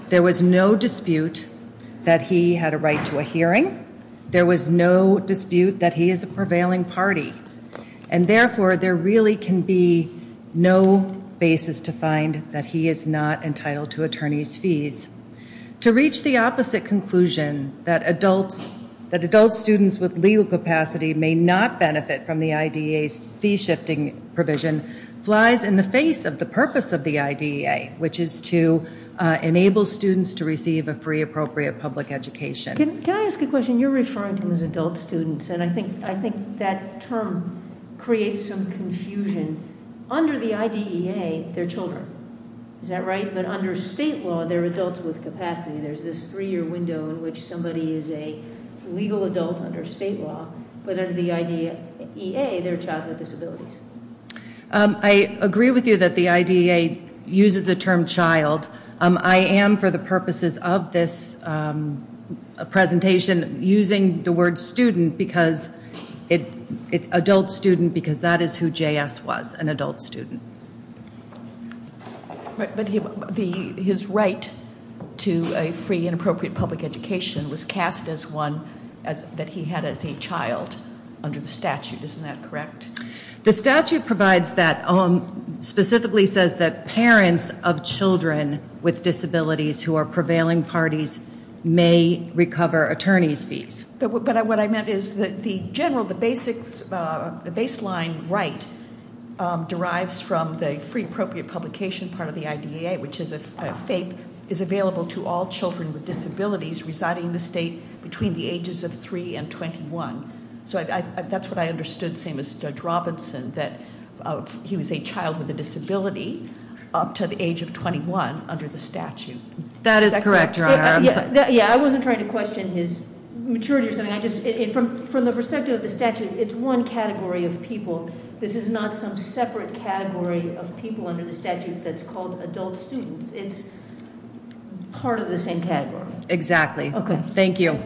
There was no dispute that he had a right to a hearing. There was no dispute that he is a prevailing party. And therefore, there really can be no basis to find that he is not entitled to attorney's fees. To reach the opposite conclusion, that adult students with legal capacity may not benefit from the IDEA's fee-shifting provision, flies in the face of the purpose of the IDEA, which is to enable students to receive a free, appropriate public education. Can I ask a question? You're referring to him as adult students, and I think that term creates some confusion. Under the IDEA, they're children. Is that right? But under state law, they're adults with capacity. There's this three-year window in which somebody is a legal adult under state law, but under the IDEA, they're a child with disabilities. I agree with you that the IDEA uses the term child. I am, for the purposes of this presentation, using the word student because it's adult student because that is who J.S. was, an adult student. But his right to a free and appropriate public education was cast as one that he had as a child under the statute. Isn't that correct? The statute provides that, specifically says that parents of children with disabilities who are prevailing parties may recover attorney's fees. But what I meant is that the general, the baseline right derives from the free appropriate publication part of the IDEA, which is a FAPE, is available to all children with disabilities residing in the state between the ages of three and 21. So that's what I understood, same as Judge Robinson, that he was a child with a disability up to the age of 21 under the statute. That is correct, Your Honor. Yeah, I wasn't trying to question his maturity or something. I just, from the perspective of the statute, it's one category of people. This is not some separate category of people under the statute that's called adult students. It's part of the same category. Exactly. Thank you.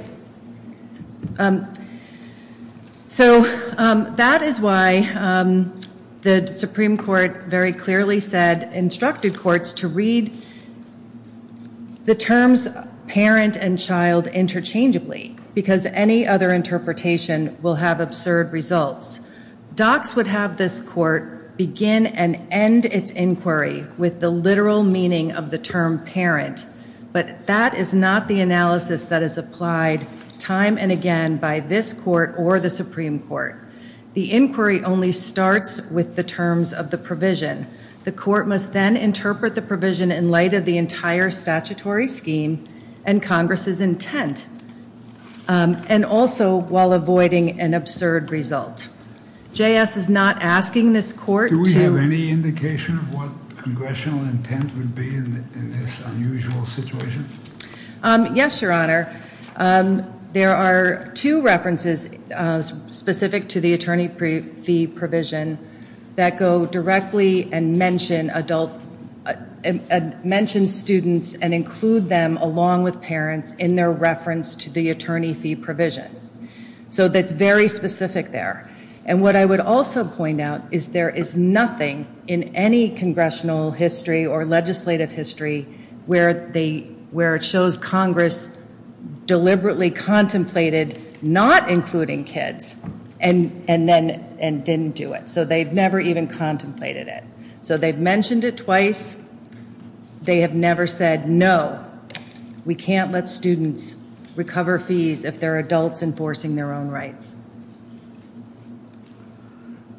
So that is why the Supreme Court very clearly said, instructed courts to read the terms parent and child interchangeably, because any other interpretation will have absurd results. Docs would have this court begin and end its inquiry with the literal meaning of the term parent, but that is not the analysis that is applied time and again by this court or the Supreme Court. The inquiry only starts with the terms of the provision. The court must then interpret the provision in light of the entire statutory scheme and Congress's intent, and also while avoiding an absurd result. J.S. is not asking this court to- Yes, Your Honor. There are two references specific to the attorney fee provision that go directly and mention students and include them along with parents in their reference to the attorney fee provision. So that's very specific there. And what I would also point out is there is nothing in any congressional history or legislative history where it shows Congress deliberately contemplated not including kids and didn't do it. So they've never even contemplated it. So they've mentioned it twice. They have never said, no, we can't let students recover fees if they're adults enforcing their own rights.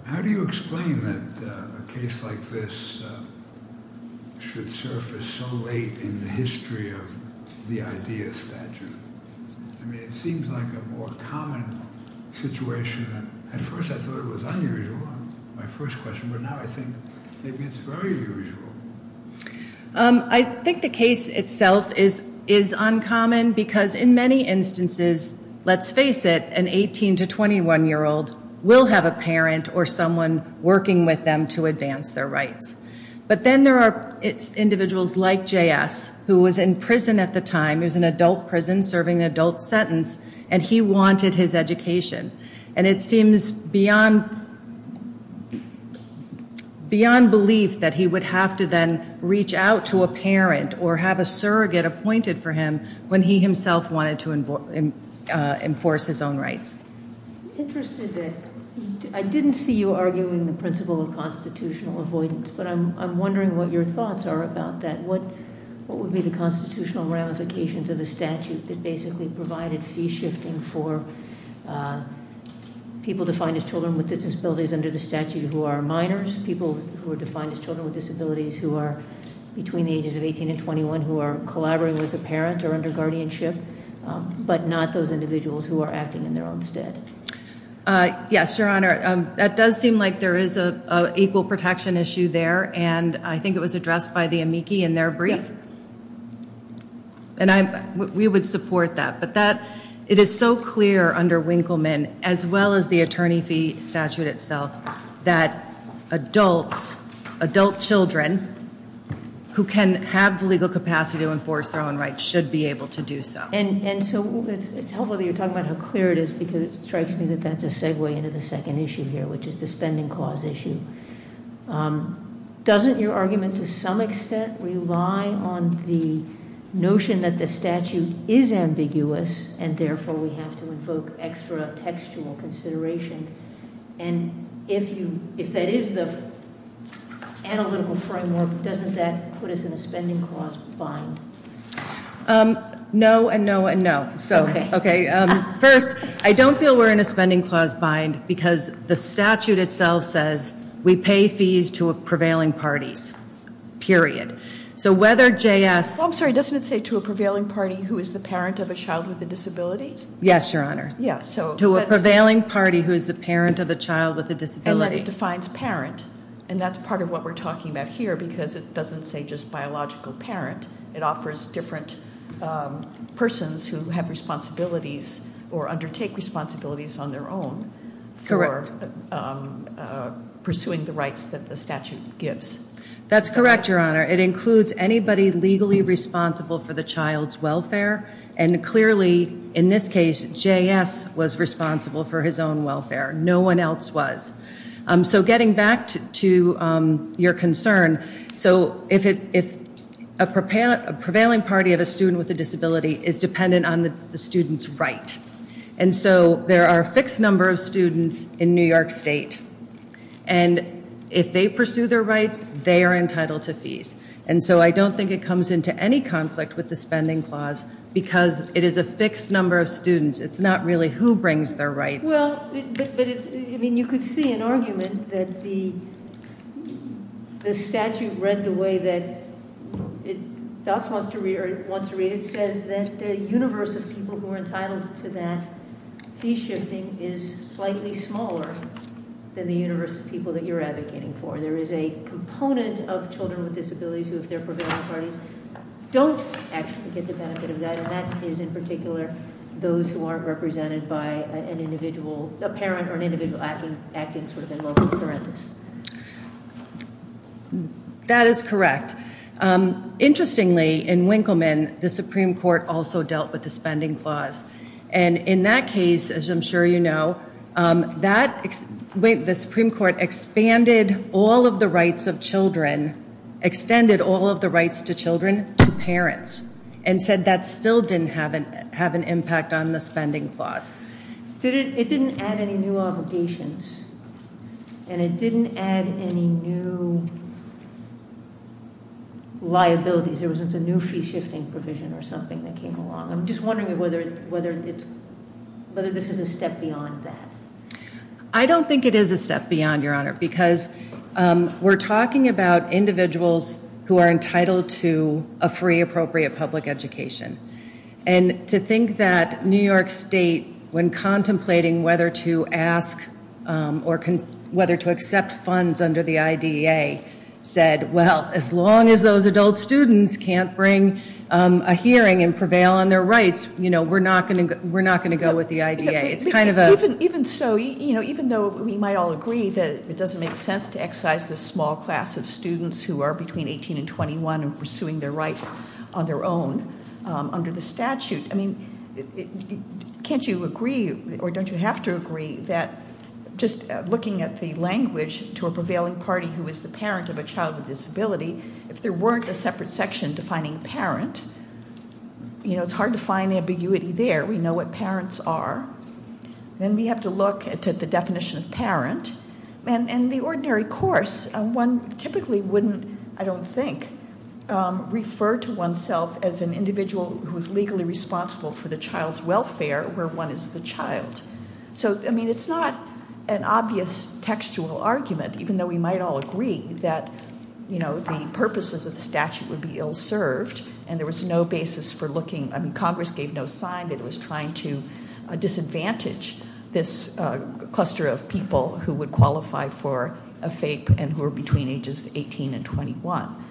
How do you explain that a case like this should surface so late in the history of the IDEA statute? I mean, it seems like a more common situation. At first I thought it was unusual, my first question, but now I think maybe it's very usual. I think the case itself is uncommon because in many instances, let's face it, an 18 to 21-year-old will have a parent or someone working with them to advance their rights. But then there are individuals like J.S. who was in prison at the time. It was an adult prison serving an adult sentence, and he wanted his education. And it seems beyond belief that he would have to then reach out to a parent or have a surrogate appointed for him when he himself wanted to enforce his own rights. I didn't see you arguing the principle of constitutional avoidance, but I'm wondering what your thoughts are about that. What would be the constitutional ramifications of a statute that basically provided fee shifting for people defined as children with disabilities under the statute who are minors, people who are defined as children with disabilities who are between the ages of 18 and 21 who are collaborating with a parent or under guardianship, but not those individuals who are acting in their own stead? Yes, Your Honor. That does seem like there is an equal protection issue there, and I think it was addressed by the amici in their brief. And we would support that. But it is so clear under Winkleman, as well as the attorney fee statute itself, that adults, adult children who can have the legal capacity to enforce their own rights should be able to do so. And so it's helpful that you're talking about how clear it is because it strikes me that that's a segue into the second issue here, which is the spending clause issue. Doesn't your argument to some extent rely on the notion that the statute is ambiguous and therefore we have to invoke extra textual considerations? And if that is the analytical framework, doesn't that put us in a spending clause bind? No, and no, and no. Okay. First, I don't feel we're in a spending clause bind because the statute itself says we pay fees to prevailing parties, period. So whether JS- I'm sorry, doesn't it say to a prevailing party who is the parent of a child with a disability? Yes, Your Honor. Yes, so- To a prevailing party who is the parent of a child with a disability. And then it defines parent, and that's part of what we're talking about here because it doesn't say just biological parent. It offers different persons who have responsibilities or undertake responsibilities on their own for pursuing the rights that the statute gives. That's correct, Your Honor. It includes anybody legally responsible for the child's welfare, and clearly in this case, JS was responsible for his own welfare. No one else was. So getting back to your concern, so if a prevailing party of a student with a disability is dependent on the student's right, and so there are a fixed number of students in New York State, and if they pursue their rights, they are entitled to fees. And so I don't think it comes into any conflict with the spending clause because it is a fixed number of students. It's not really who brings their rights. Well, but it's-I mean, you could see an argument that the statute read the way that it wants to read it. It says that the universe of people who are entitled to that fee shifting is slightly smaller than the universe of people that you're advocating for. There is a component of children with disabilities who, if they're prevailing parties, don't actually get the benefit of that, and that is in particular those who aren't represented by a parent or an individual acting sort of in loco parentis. That is correct. Interestingly, in Winkleman, the Supreme Court also dealt with the spending clause. And in that case, as I'm sure you know, the Supreme Court expanded all of the rights of children, extended all of the rights to children to parents, and said that still didn't have an impact on the spending clause. It didn't add any new obligations, and it didn't add any new liabilities. There wasn't a new fee shifting provision or something that came along. I'm just wondering whether this is a step beyond that. I don't think it is a step beyond, Your Honor, because we're talking about individuals who are entitled to a free appropriate public education. And to think that New York State, when contemplating whether to ask or whether to accept funds under the IDEA, said, well, as long as those adult students can't bring a hearing and prevail on their rights, we're not going to go with the IDEA. It's kind of a- Even so, even though we might all agree that it doesn't make sense to excise this small class of students who are between 18 and 21 and pursuing their rights on their own under the statute. Can't you agree, or don't you have to agree, that just looking at the language to a prevailing party who is the parent of a child with disability, if there weren't a separate section defining parent, it's hard to find ambiguity there. We know what parents are. Then we have to look at the definition of parent. And in the ordinary course, one typically wouldn't, I don't think, refer to oneself as an individual who is legally responsible for the child's welfare where one is the child. So, I mean, it's not an obvious textual argument, even though we might all agree that the purposes of the statute would be ill-served, and there was no basis for looking-I mean, Congress gave no sign that it was trying to disadvantage this cluster of people who would qualify for a FAPE and who are between ages 18 and 21.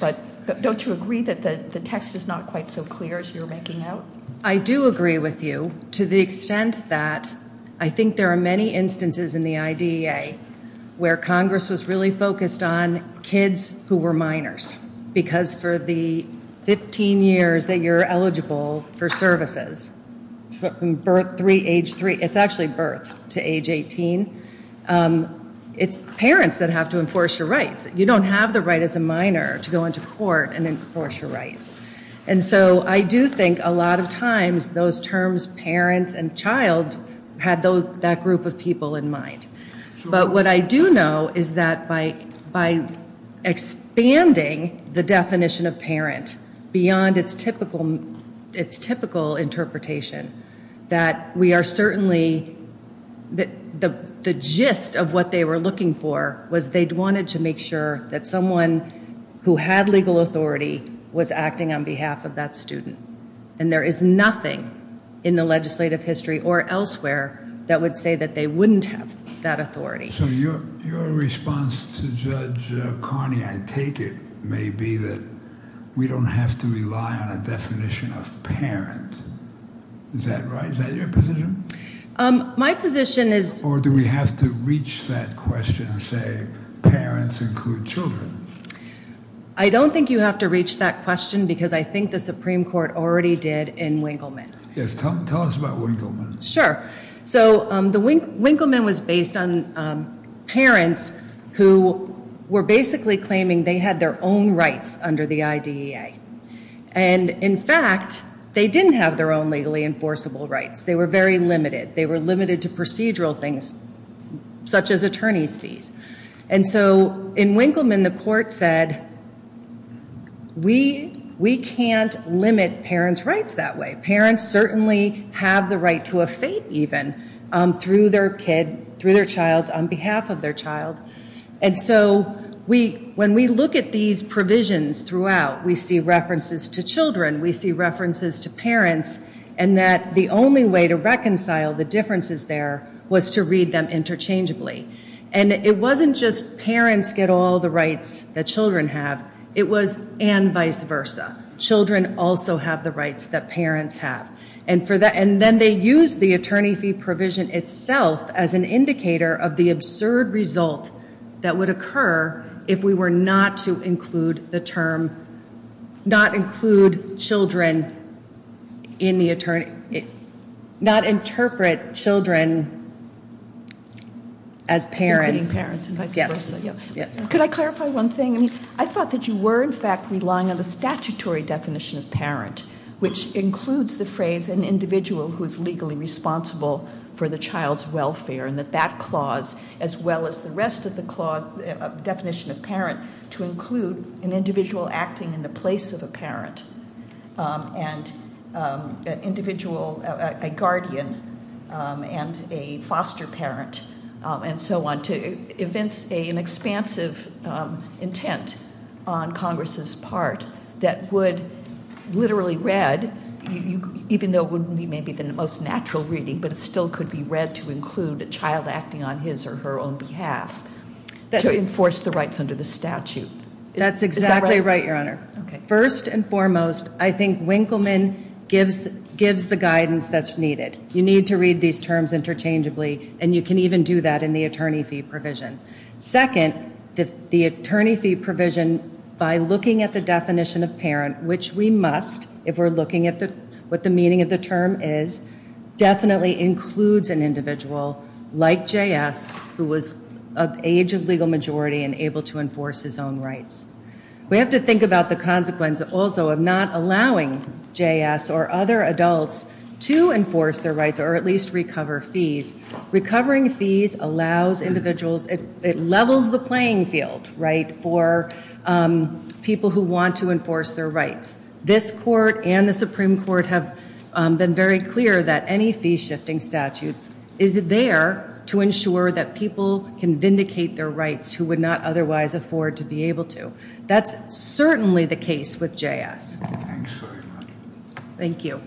But don't you agree that the text is not quite so clear as you're making out? I do agree with you to the extent that I think there are many instances in the IDEA where Congress was really focused on kids who were minors, because for the 15 years that you're eligible for services, birth three, age three, it's actually birth to age 18, it's parents that have to enforce your rights. You don't have the right as a minor to go into court and enforce your rights. And so I do think a lot of times those terms parents and child had that group of people in mind. But what I do know is that by expanding the definition of parent beyond its typical interpretation, that we are certainly-the gist of what they were looking for was they wanted to make sure that someone who had legal authority was acting on behalf of that student. And there is nothing in the legislative history or elsewhere that would say that they wouldn't have that authority. So your response to Judge Carney, I take it, may be that we don't have to rely on a definition of parent. Is that right? Is that your position? My position is- Or do we have to reach that question and say parents include children? I don't think you have to reach that question because I think the Supreme Court already did in Winkleman. Yes. Tell us about Winkleman. Sure. So Winkleman was based on parents who were basically claiming they had their own rights under the IDEA. And in fact, they didn't have their own legally enforceable rights. They were very limited. They were limited to procedural things such as attorney's fees. And so in Winkleman, the court said we can't limit parents' rights that way. Parents certainly have the right to a fate even through their child on behalf of their child. And so when we look at these provisions throughout, we see references to children. We see references to parents. And that the only way to reconcile the differences there was to read them interchangeably. And it wasn't just parents get all the rights that children have. It was and vice versa. Children also have the rights that parents have. And then they used the attorney fee provision itself as an indicator of the absurd result that would occur if we were not to include the term, not include children in the attorney, not interpret children as parents. As parents and vice versa. Yes. Could I clarify one thing? I mean, I thought that you were in fact relying on the statutory definition of parent, which includes the phrase an individual who is legally responsible for the child's welfare. And that that clause, as well as the rest of the definition of parent, to include an individual acting in the place of a parent and an individual, a guardian, and a foster parent, and so on, to evince an expansive intent on Congress's part that would literally read, even though it wouldn't be maybe the most natural reading, but it still could be read to include a child acting on his or her own behalf, to enforce the rights under the statute. That's exactly right, Your Honor. First and foremost, I think Winkleman gives the guidance that's needed. You need to read these terms interchangeably, and you can even do that in the attorney fee provision. Second, the attorney fee provision, by looking at the definition of parent, which we must if we're looking at what the meaning of the term is, definitely includes an individual like J.S. who was of age of legal majority and able to enforce his own rights. We have to think about the consequence also of not allowing J.S. or other adults to enforce their rights, or at least recover fees. Recovering fees allows individuals, it levels the playing field, right, for people who want to enforce their rights. This court and the Supreme Court have been very clear that any fee-shifting statute is there to ensure that people can vindicate their rights who would not otherwise afford to be able to. That's certainly the case with J.S. Thanks very much. Thank you.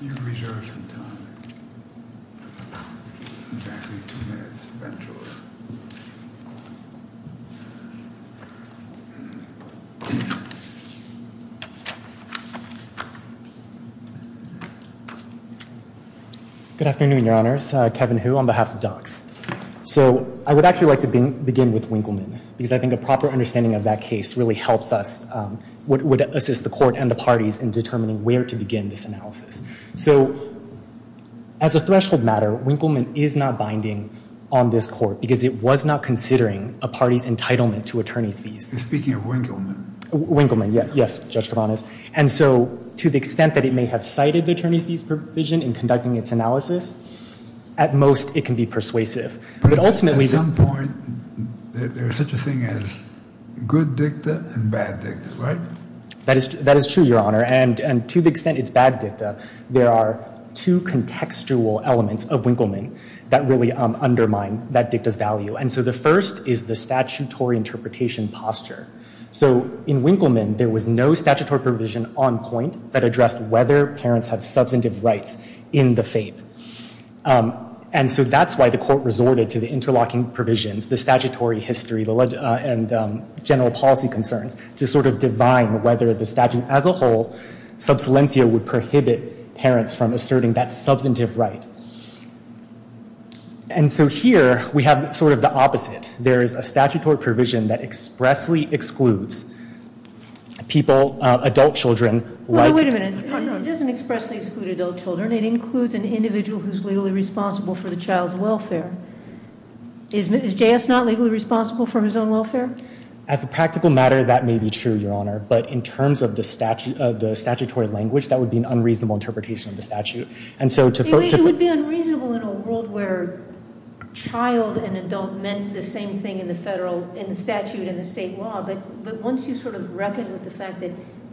You have reserved some time, exactly two minutes eventually. Good afternoon, Your Honors. Kevin Hu on behalf of DOCS. So I would actually like to begin with Winkleman because I think a proper understanding of that case really helps us, would assist the court and the parties in determining where to begin this analysis. So as a threshold matter, Winkleman is not binding on this court because it was not considering a party's entitlement to attorney's fees. You're speaking of Winkleman? Winkleman, yes, Judge Kovanes. And so to the extent that it may have cited the attorney's fees provision in conducting its analysis, at most it can be persuasive. But at some point, there's such a thing as good dicta and bad dicta, right? That is true, Your Honor. And to the extent it's bad dicta, there are two contextual elements of Winkleman that really undermine that dicta's value. And so the first is the statutory interpretation posture. So in Winkleman, there was no statutory provision on point that addressed whether parents have substantive rights in the FAPE. And so that's why the court resorted to the interlocking provisions, the statutory history, and general policy concerns to sort of divine whether the statute as a whole, subsilentia would prohibit parents from asserting that substantive right. And so here, we have sort of the opposite. There is a statutory provision that expressly excludes people, adult children. Wait a minute. It doesn't expressly exclude adult children. It includes an individual who's legally responsible for the child's welfare. Is J.S. not legally responsible for his own welfare? As a practical matter, that may be true, Your Honor. But in terms of the statutory language, that would be an unreasonable interpretation of the statute. It would be unreasonable in a world where child and adult meant the same thing in the statute and the state law. But once you sort of reckon with the fact that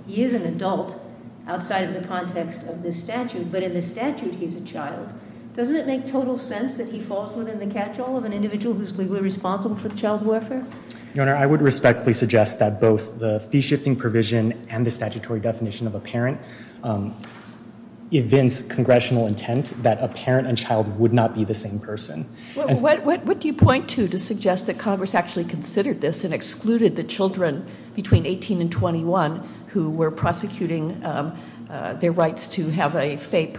he is an adult outside of the context of this statute, but in the statute he's a child, doesn't it make total sense that he falls within the catchall of an individual who's legally responsible for the child's welfare? Your Honor, I would respectfully suggest that both the fee-shifting provision and the statutory definition of a parent evince congressional intent that a parent and child would not be the same person. What do you point to to suggest that Congress actually considered this and excluded the children between 18 and 21 who were prosecuting their rights to have a FAPE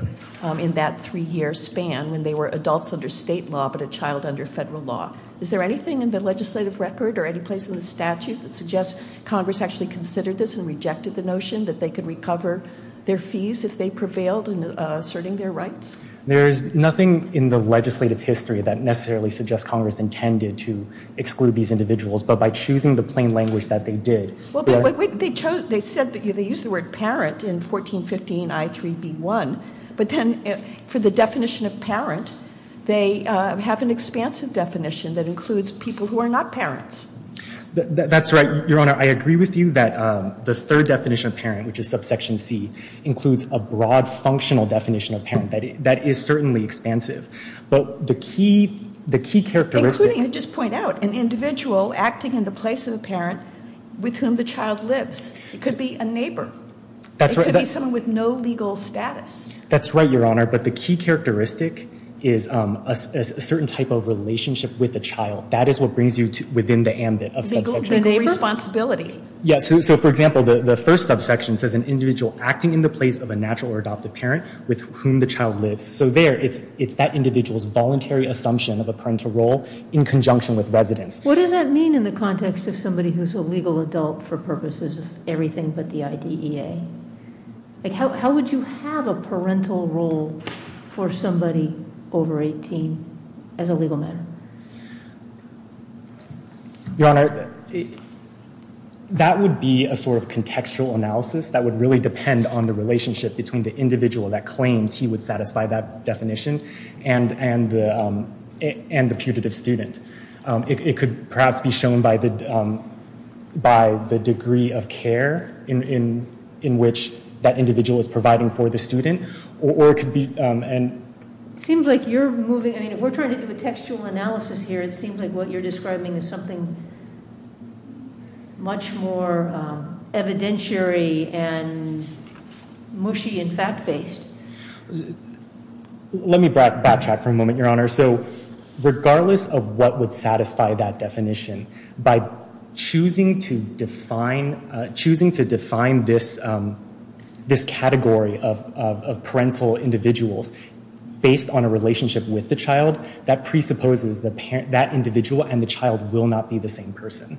in that three-year span when they were adults under state law but a child under federal law? Is there anything in the legislative record or any place in the statute that suggests Congress actually considered this and rejected the notion that they could recover their fees if they prevailed in asserting their rights? There is nothing in the legislative history that necessarily suggests Congress intended to exclude these individuals, but by choosing the plain language that they did. They used the word parent in 1415 I3B1, but then for the definition of parent, they have an expansive definition that includes people who are not parents. That's right, Your Honor. I agree with you that the third definition of parent, which is subsection C, includes a broad functional definition of parent. That is certainly expansive, but the key characteristic Including, I'll just point out, an individual acting in the place of a parent with whom the child lives. It could be a neighbor. That's right. It could be someone with no legal status. That's right, Your Honor, but the key characteristic is a certain type of relationship with the child. That is what brings you within the ambit of subsection C. The neighbor? Responsibility. For example, the first subsection says an individual acting in the place of a natural or adopted parent with whom the child lives. There, it's that individual's voluntary assumption of a parental role in conjunction with residence. What does that mean in the context of somebody who's a legal adult for purposes of everything but the IDEA? How would you have a parental role for somebody over 18 as a legal matter? Your Honor, that would be a sort of contextual analysis that would really depend on the relationship between the individual that claims he would satisfy that definition and the putative student. It could perhaps be shown by the degree of care in which that individual is providing for the student, or it could be It seems like you're moving, I mean, if we're trying to do a textual analysis here, it seems like what you're describing is something much more evidentiary and mushy and fact-based. Let me backtrack for a moment, Your Honor. Regardless of what would satisfy that definition, by choosing to define this category of parental individuals based on a relationship with the child, that presupposes that individual and the child will not be the same person.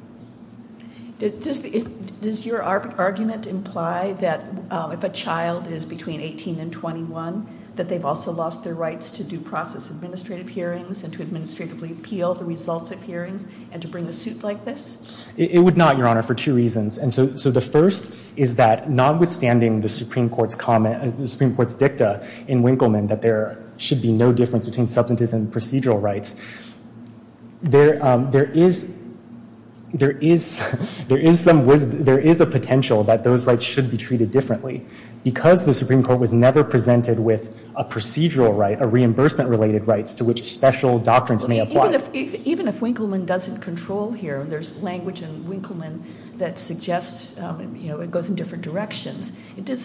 Does your argument imply that if a child is between 18 and 21, that they've also lost their rights to due process administrative hearings and to administratively appeal the results of hearings and to bring a suit like this? It would not, Your Honor, for two reasons. And so the first is that notwithstanding the Supreme Court's dicta in Winkleman that there should be no difference between substantive and procedural rights, there is a potential that those rights should be treated differently. Because the Supreme Court was never presented with a procedural right, a reimbursement-related right, to which special doctrines may apply. Even if Winkleman doesn't control here, there's language in Winkleman that suggests it goes in different directions, it does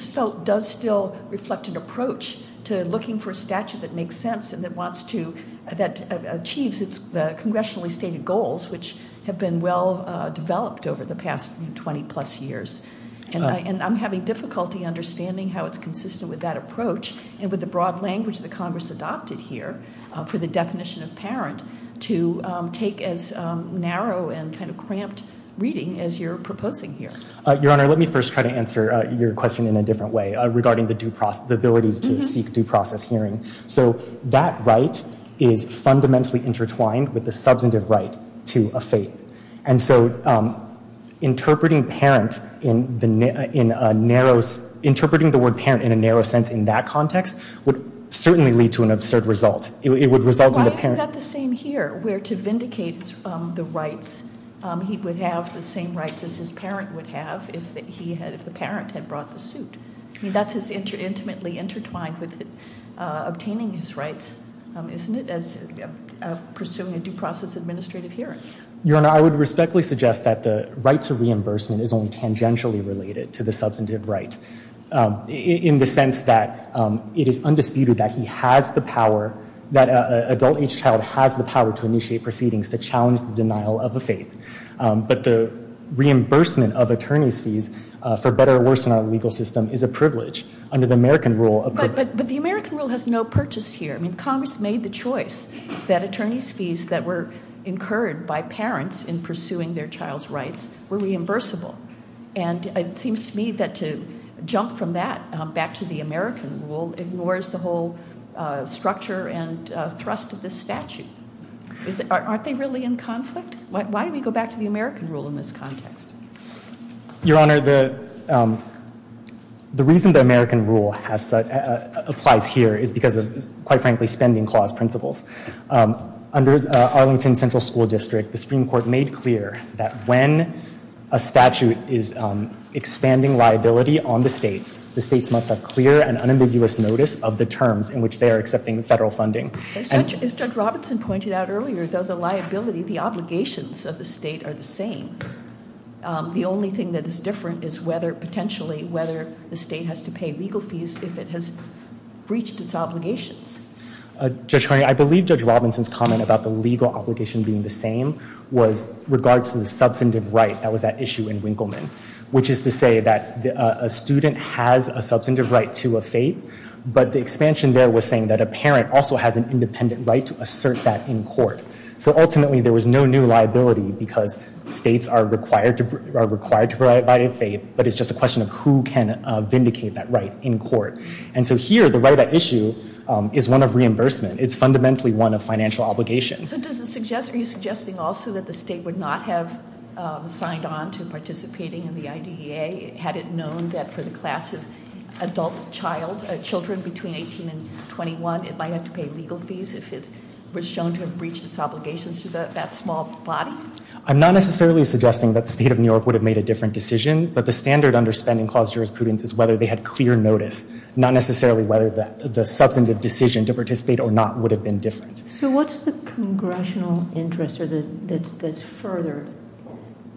still reflect an approach to looking for a statute that makes sense and that wants to, that achieves the congressionally stated goals, which have been well-developed over the past 20-plus years. And I'm having difficulty understanding how it's consistent with that approach and with the broad language that Congress adopted here for the definition of parent to take as narrow and kind of cramped reading as you're proposing here. Your Honor, let me first try to answer your question in a different way, regarding the ability to seek due process hearing. So that right is fundamentally intertwined with the substantive right to a fate. And so interpreting parent in a narrow, interpreting the word parent in a narrow sense in that context would certainly lead to an absurd result. It would result in the parent- Why is that the same here? Where to vindicate the rights, he would have the same rights as his parent would have if the parent had brought the suit. I mean, that's as intimately intertwined with obtaining his rights, isn't it? As pursuing a due process administrative hearing. Your Honor, I would respectfully suggest that the right to reimbursement is only tangentially related to the substantive right, in the sense that it is undisputed that he has the power, that an adult age child has the power to initiate proceedings to challenge the denial of a fate. But the reimbursement of attorney's fees for better or worse in our legal system is a privilege. Under the American rule- But the American rule has no purchase here. I mean, Congress made the choice that attorney's fees that were incurred by parents in pursuing their child's rights were reimbursable. And it seems to me that to jump from that back to the American rule ignores the whole structure and thrust of this statute. Aren't they really in conflict? Why do we go back to the American rule in this context? Your Honor, the reason the American rule applies here is because of, quite frankly, spending clause principles. Under Arlington Central School District, the Supreme Court made clear that when a statute is expanding liability on the states, the states must have clear and unambiguous notice of the terms in which they are accepting federal funding. As Judge Robinson pointed out earlier, though, the liability, the obligations of the state are the same. The only thing that is different is whether, potentially, whether the state has to pay legal fees if it has breached its obligations. Judge Carney, I believe Judge Robinson's comment about the legal obligation being the same was regards to the substantive right that was at issue in Winkleman, which is to say that a student has a substantive right to a fate, but the expansion there was saying that a parent also has an independent right to assert that in court. So ultimately, there was no new liability because states are required to provide a fate, but it's just a question of who can vindicate that right in court. And so here, the right at issue is one of reimbursement. It's fundamentally one of financial obligations. So are you suggesting also that the state would not have signed on to participating in the IDEA had it known that for the class of adult children between 18 and 21, it might have to pay legal fees if it was shown to have breached its obligations to that small body? I'm not necessarily suggesting that the state of New York would have made a different decision, but the standard under spending clause jurisprudence is whether they had clear notice, not necessarily whether the substantive decision to participate or not would have been different. So what's the congressional interest that's furthered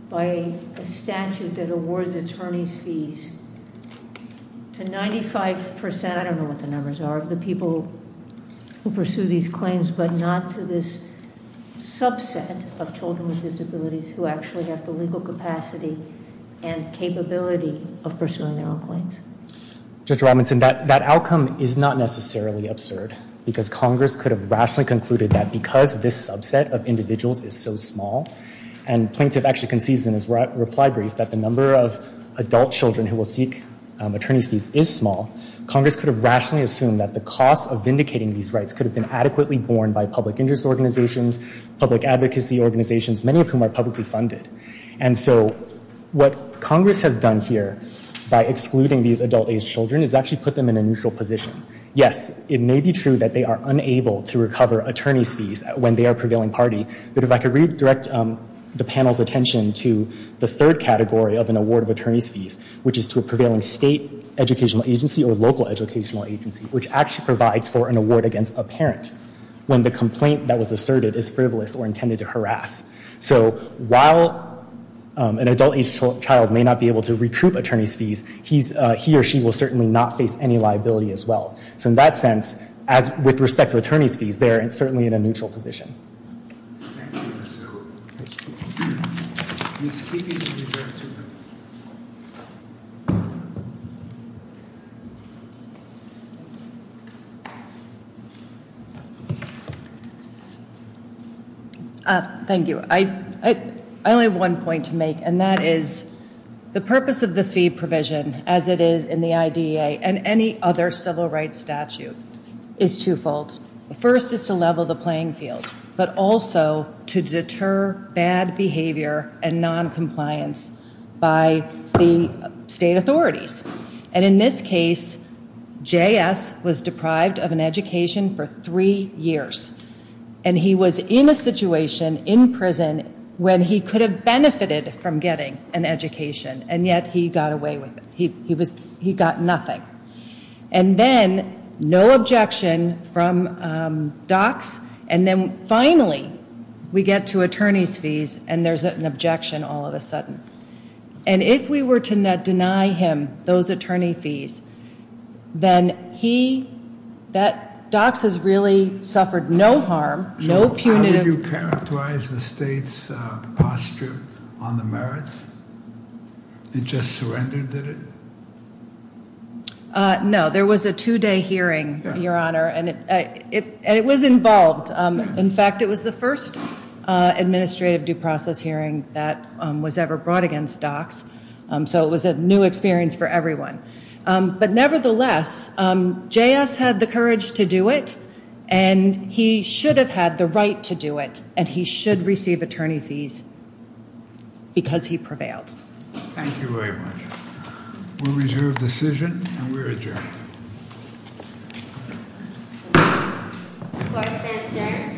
by a statute that awards attorneys fees to 95%, I don't know what the numbers are, of the people who pursue these claims, but not to this subset of children with disabilities who actually have the legal capacity and capability of pursuing their own claims? Judge Robinson, that outcome is not necessarily absurd because Congress could have rationally concluded that because this subset of individuals is so small, and Plaintiff actually concedes in his reply brief that the number of adult children who will seek attorney's fees is small, Congress could have rationally assumed that the cost of vindicating these rights could have been adequately borne by public interest organizations, public advocacy organizations, many of whom are publicly funded. And so what Congress has done here by excluding these adult aged children is actually put them in a neutral position. Yes, it may be true that they are unable to recover attorney's fees when they are prevailing party, but if I could redirect the panel's attention to the third category of an award of attorney's fees, which is to a prevailing state educational agency or local educational agency, which actually provides for an award against a parent when the complaint that was asserted is frivolous or intended to harass. So while an adult aged child may not be able to recruit attorney's fees, he or she will certainly not face any liability as well. So in that sense, with respect to attorney's fees, they are certainly in a neutral position. Thank you, Mr. Kruger. Thank you. I only have one point to make, and that is the purpose of the fee provision, as it is in the IDEA and any other civil rights statute, is twofold. The first is to level the playing field, but also to deter bad behavior and noncompliance by the state authorities. And in this case, J.S. was deprived of an education for three years, and he was in a situation in prison when he could have benefited from getting an education, and yet he got away with it. He got nothing. And then no objection from DOCS, and then finally we get to attorney's fees, and there's an objection all of a sudden. And if we were to deny him those attorney fees, then he, that DOCS has really suffered no harm, no punitive. So how would you characterize the state's posture on the merits? It just surrendered, did it? No. There was a two-day hearing, Your Honor, and it was involved. In fact, it was the first administrative due process hearing that was ever brought against DOCS, so it was a new experience for everyone. But nevertheless, J.S. had the courage to do it, and he should have had the right to do it, and he should receive attorney fees because he prevailed. Thank you very much. We'll reserve the decision, and we're adjourned. Court is adjourned. Thank you.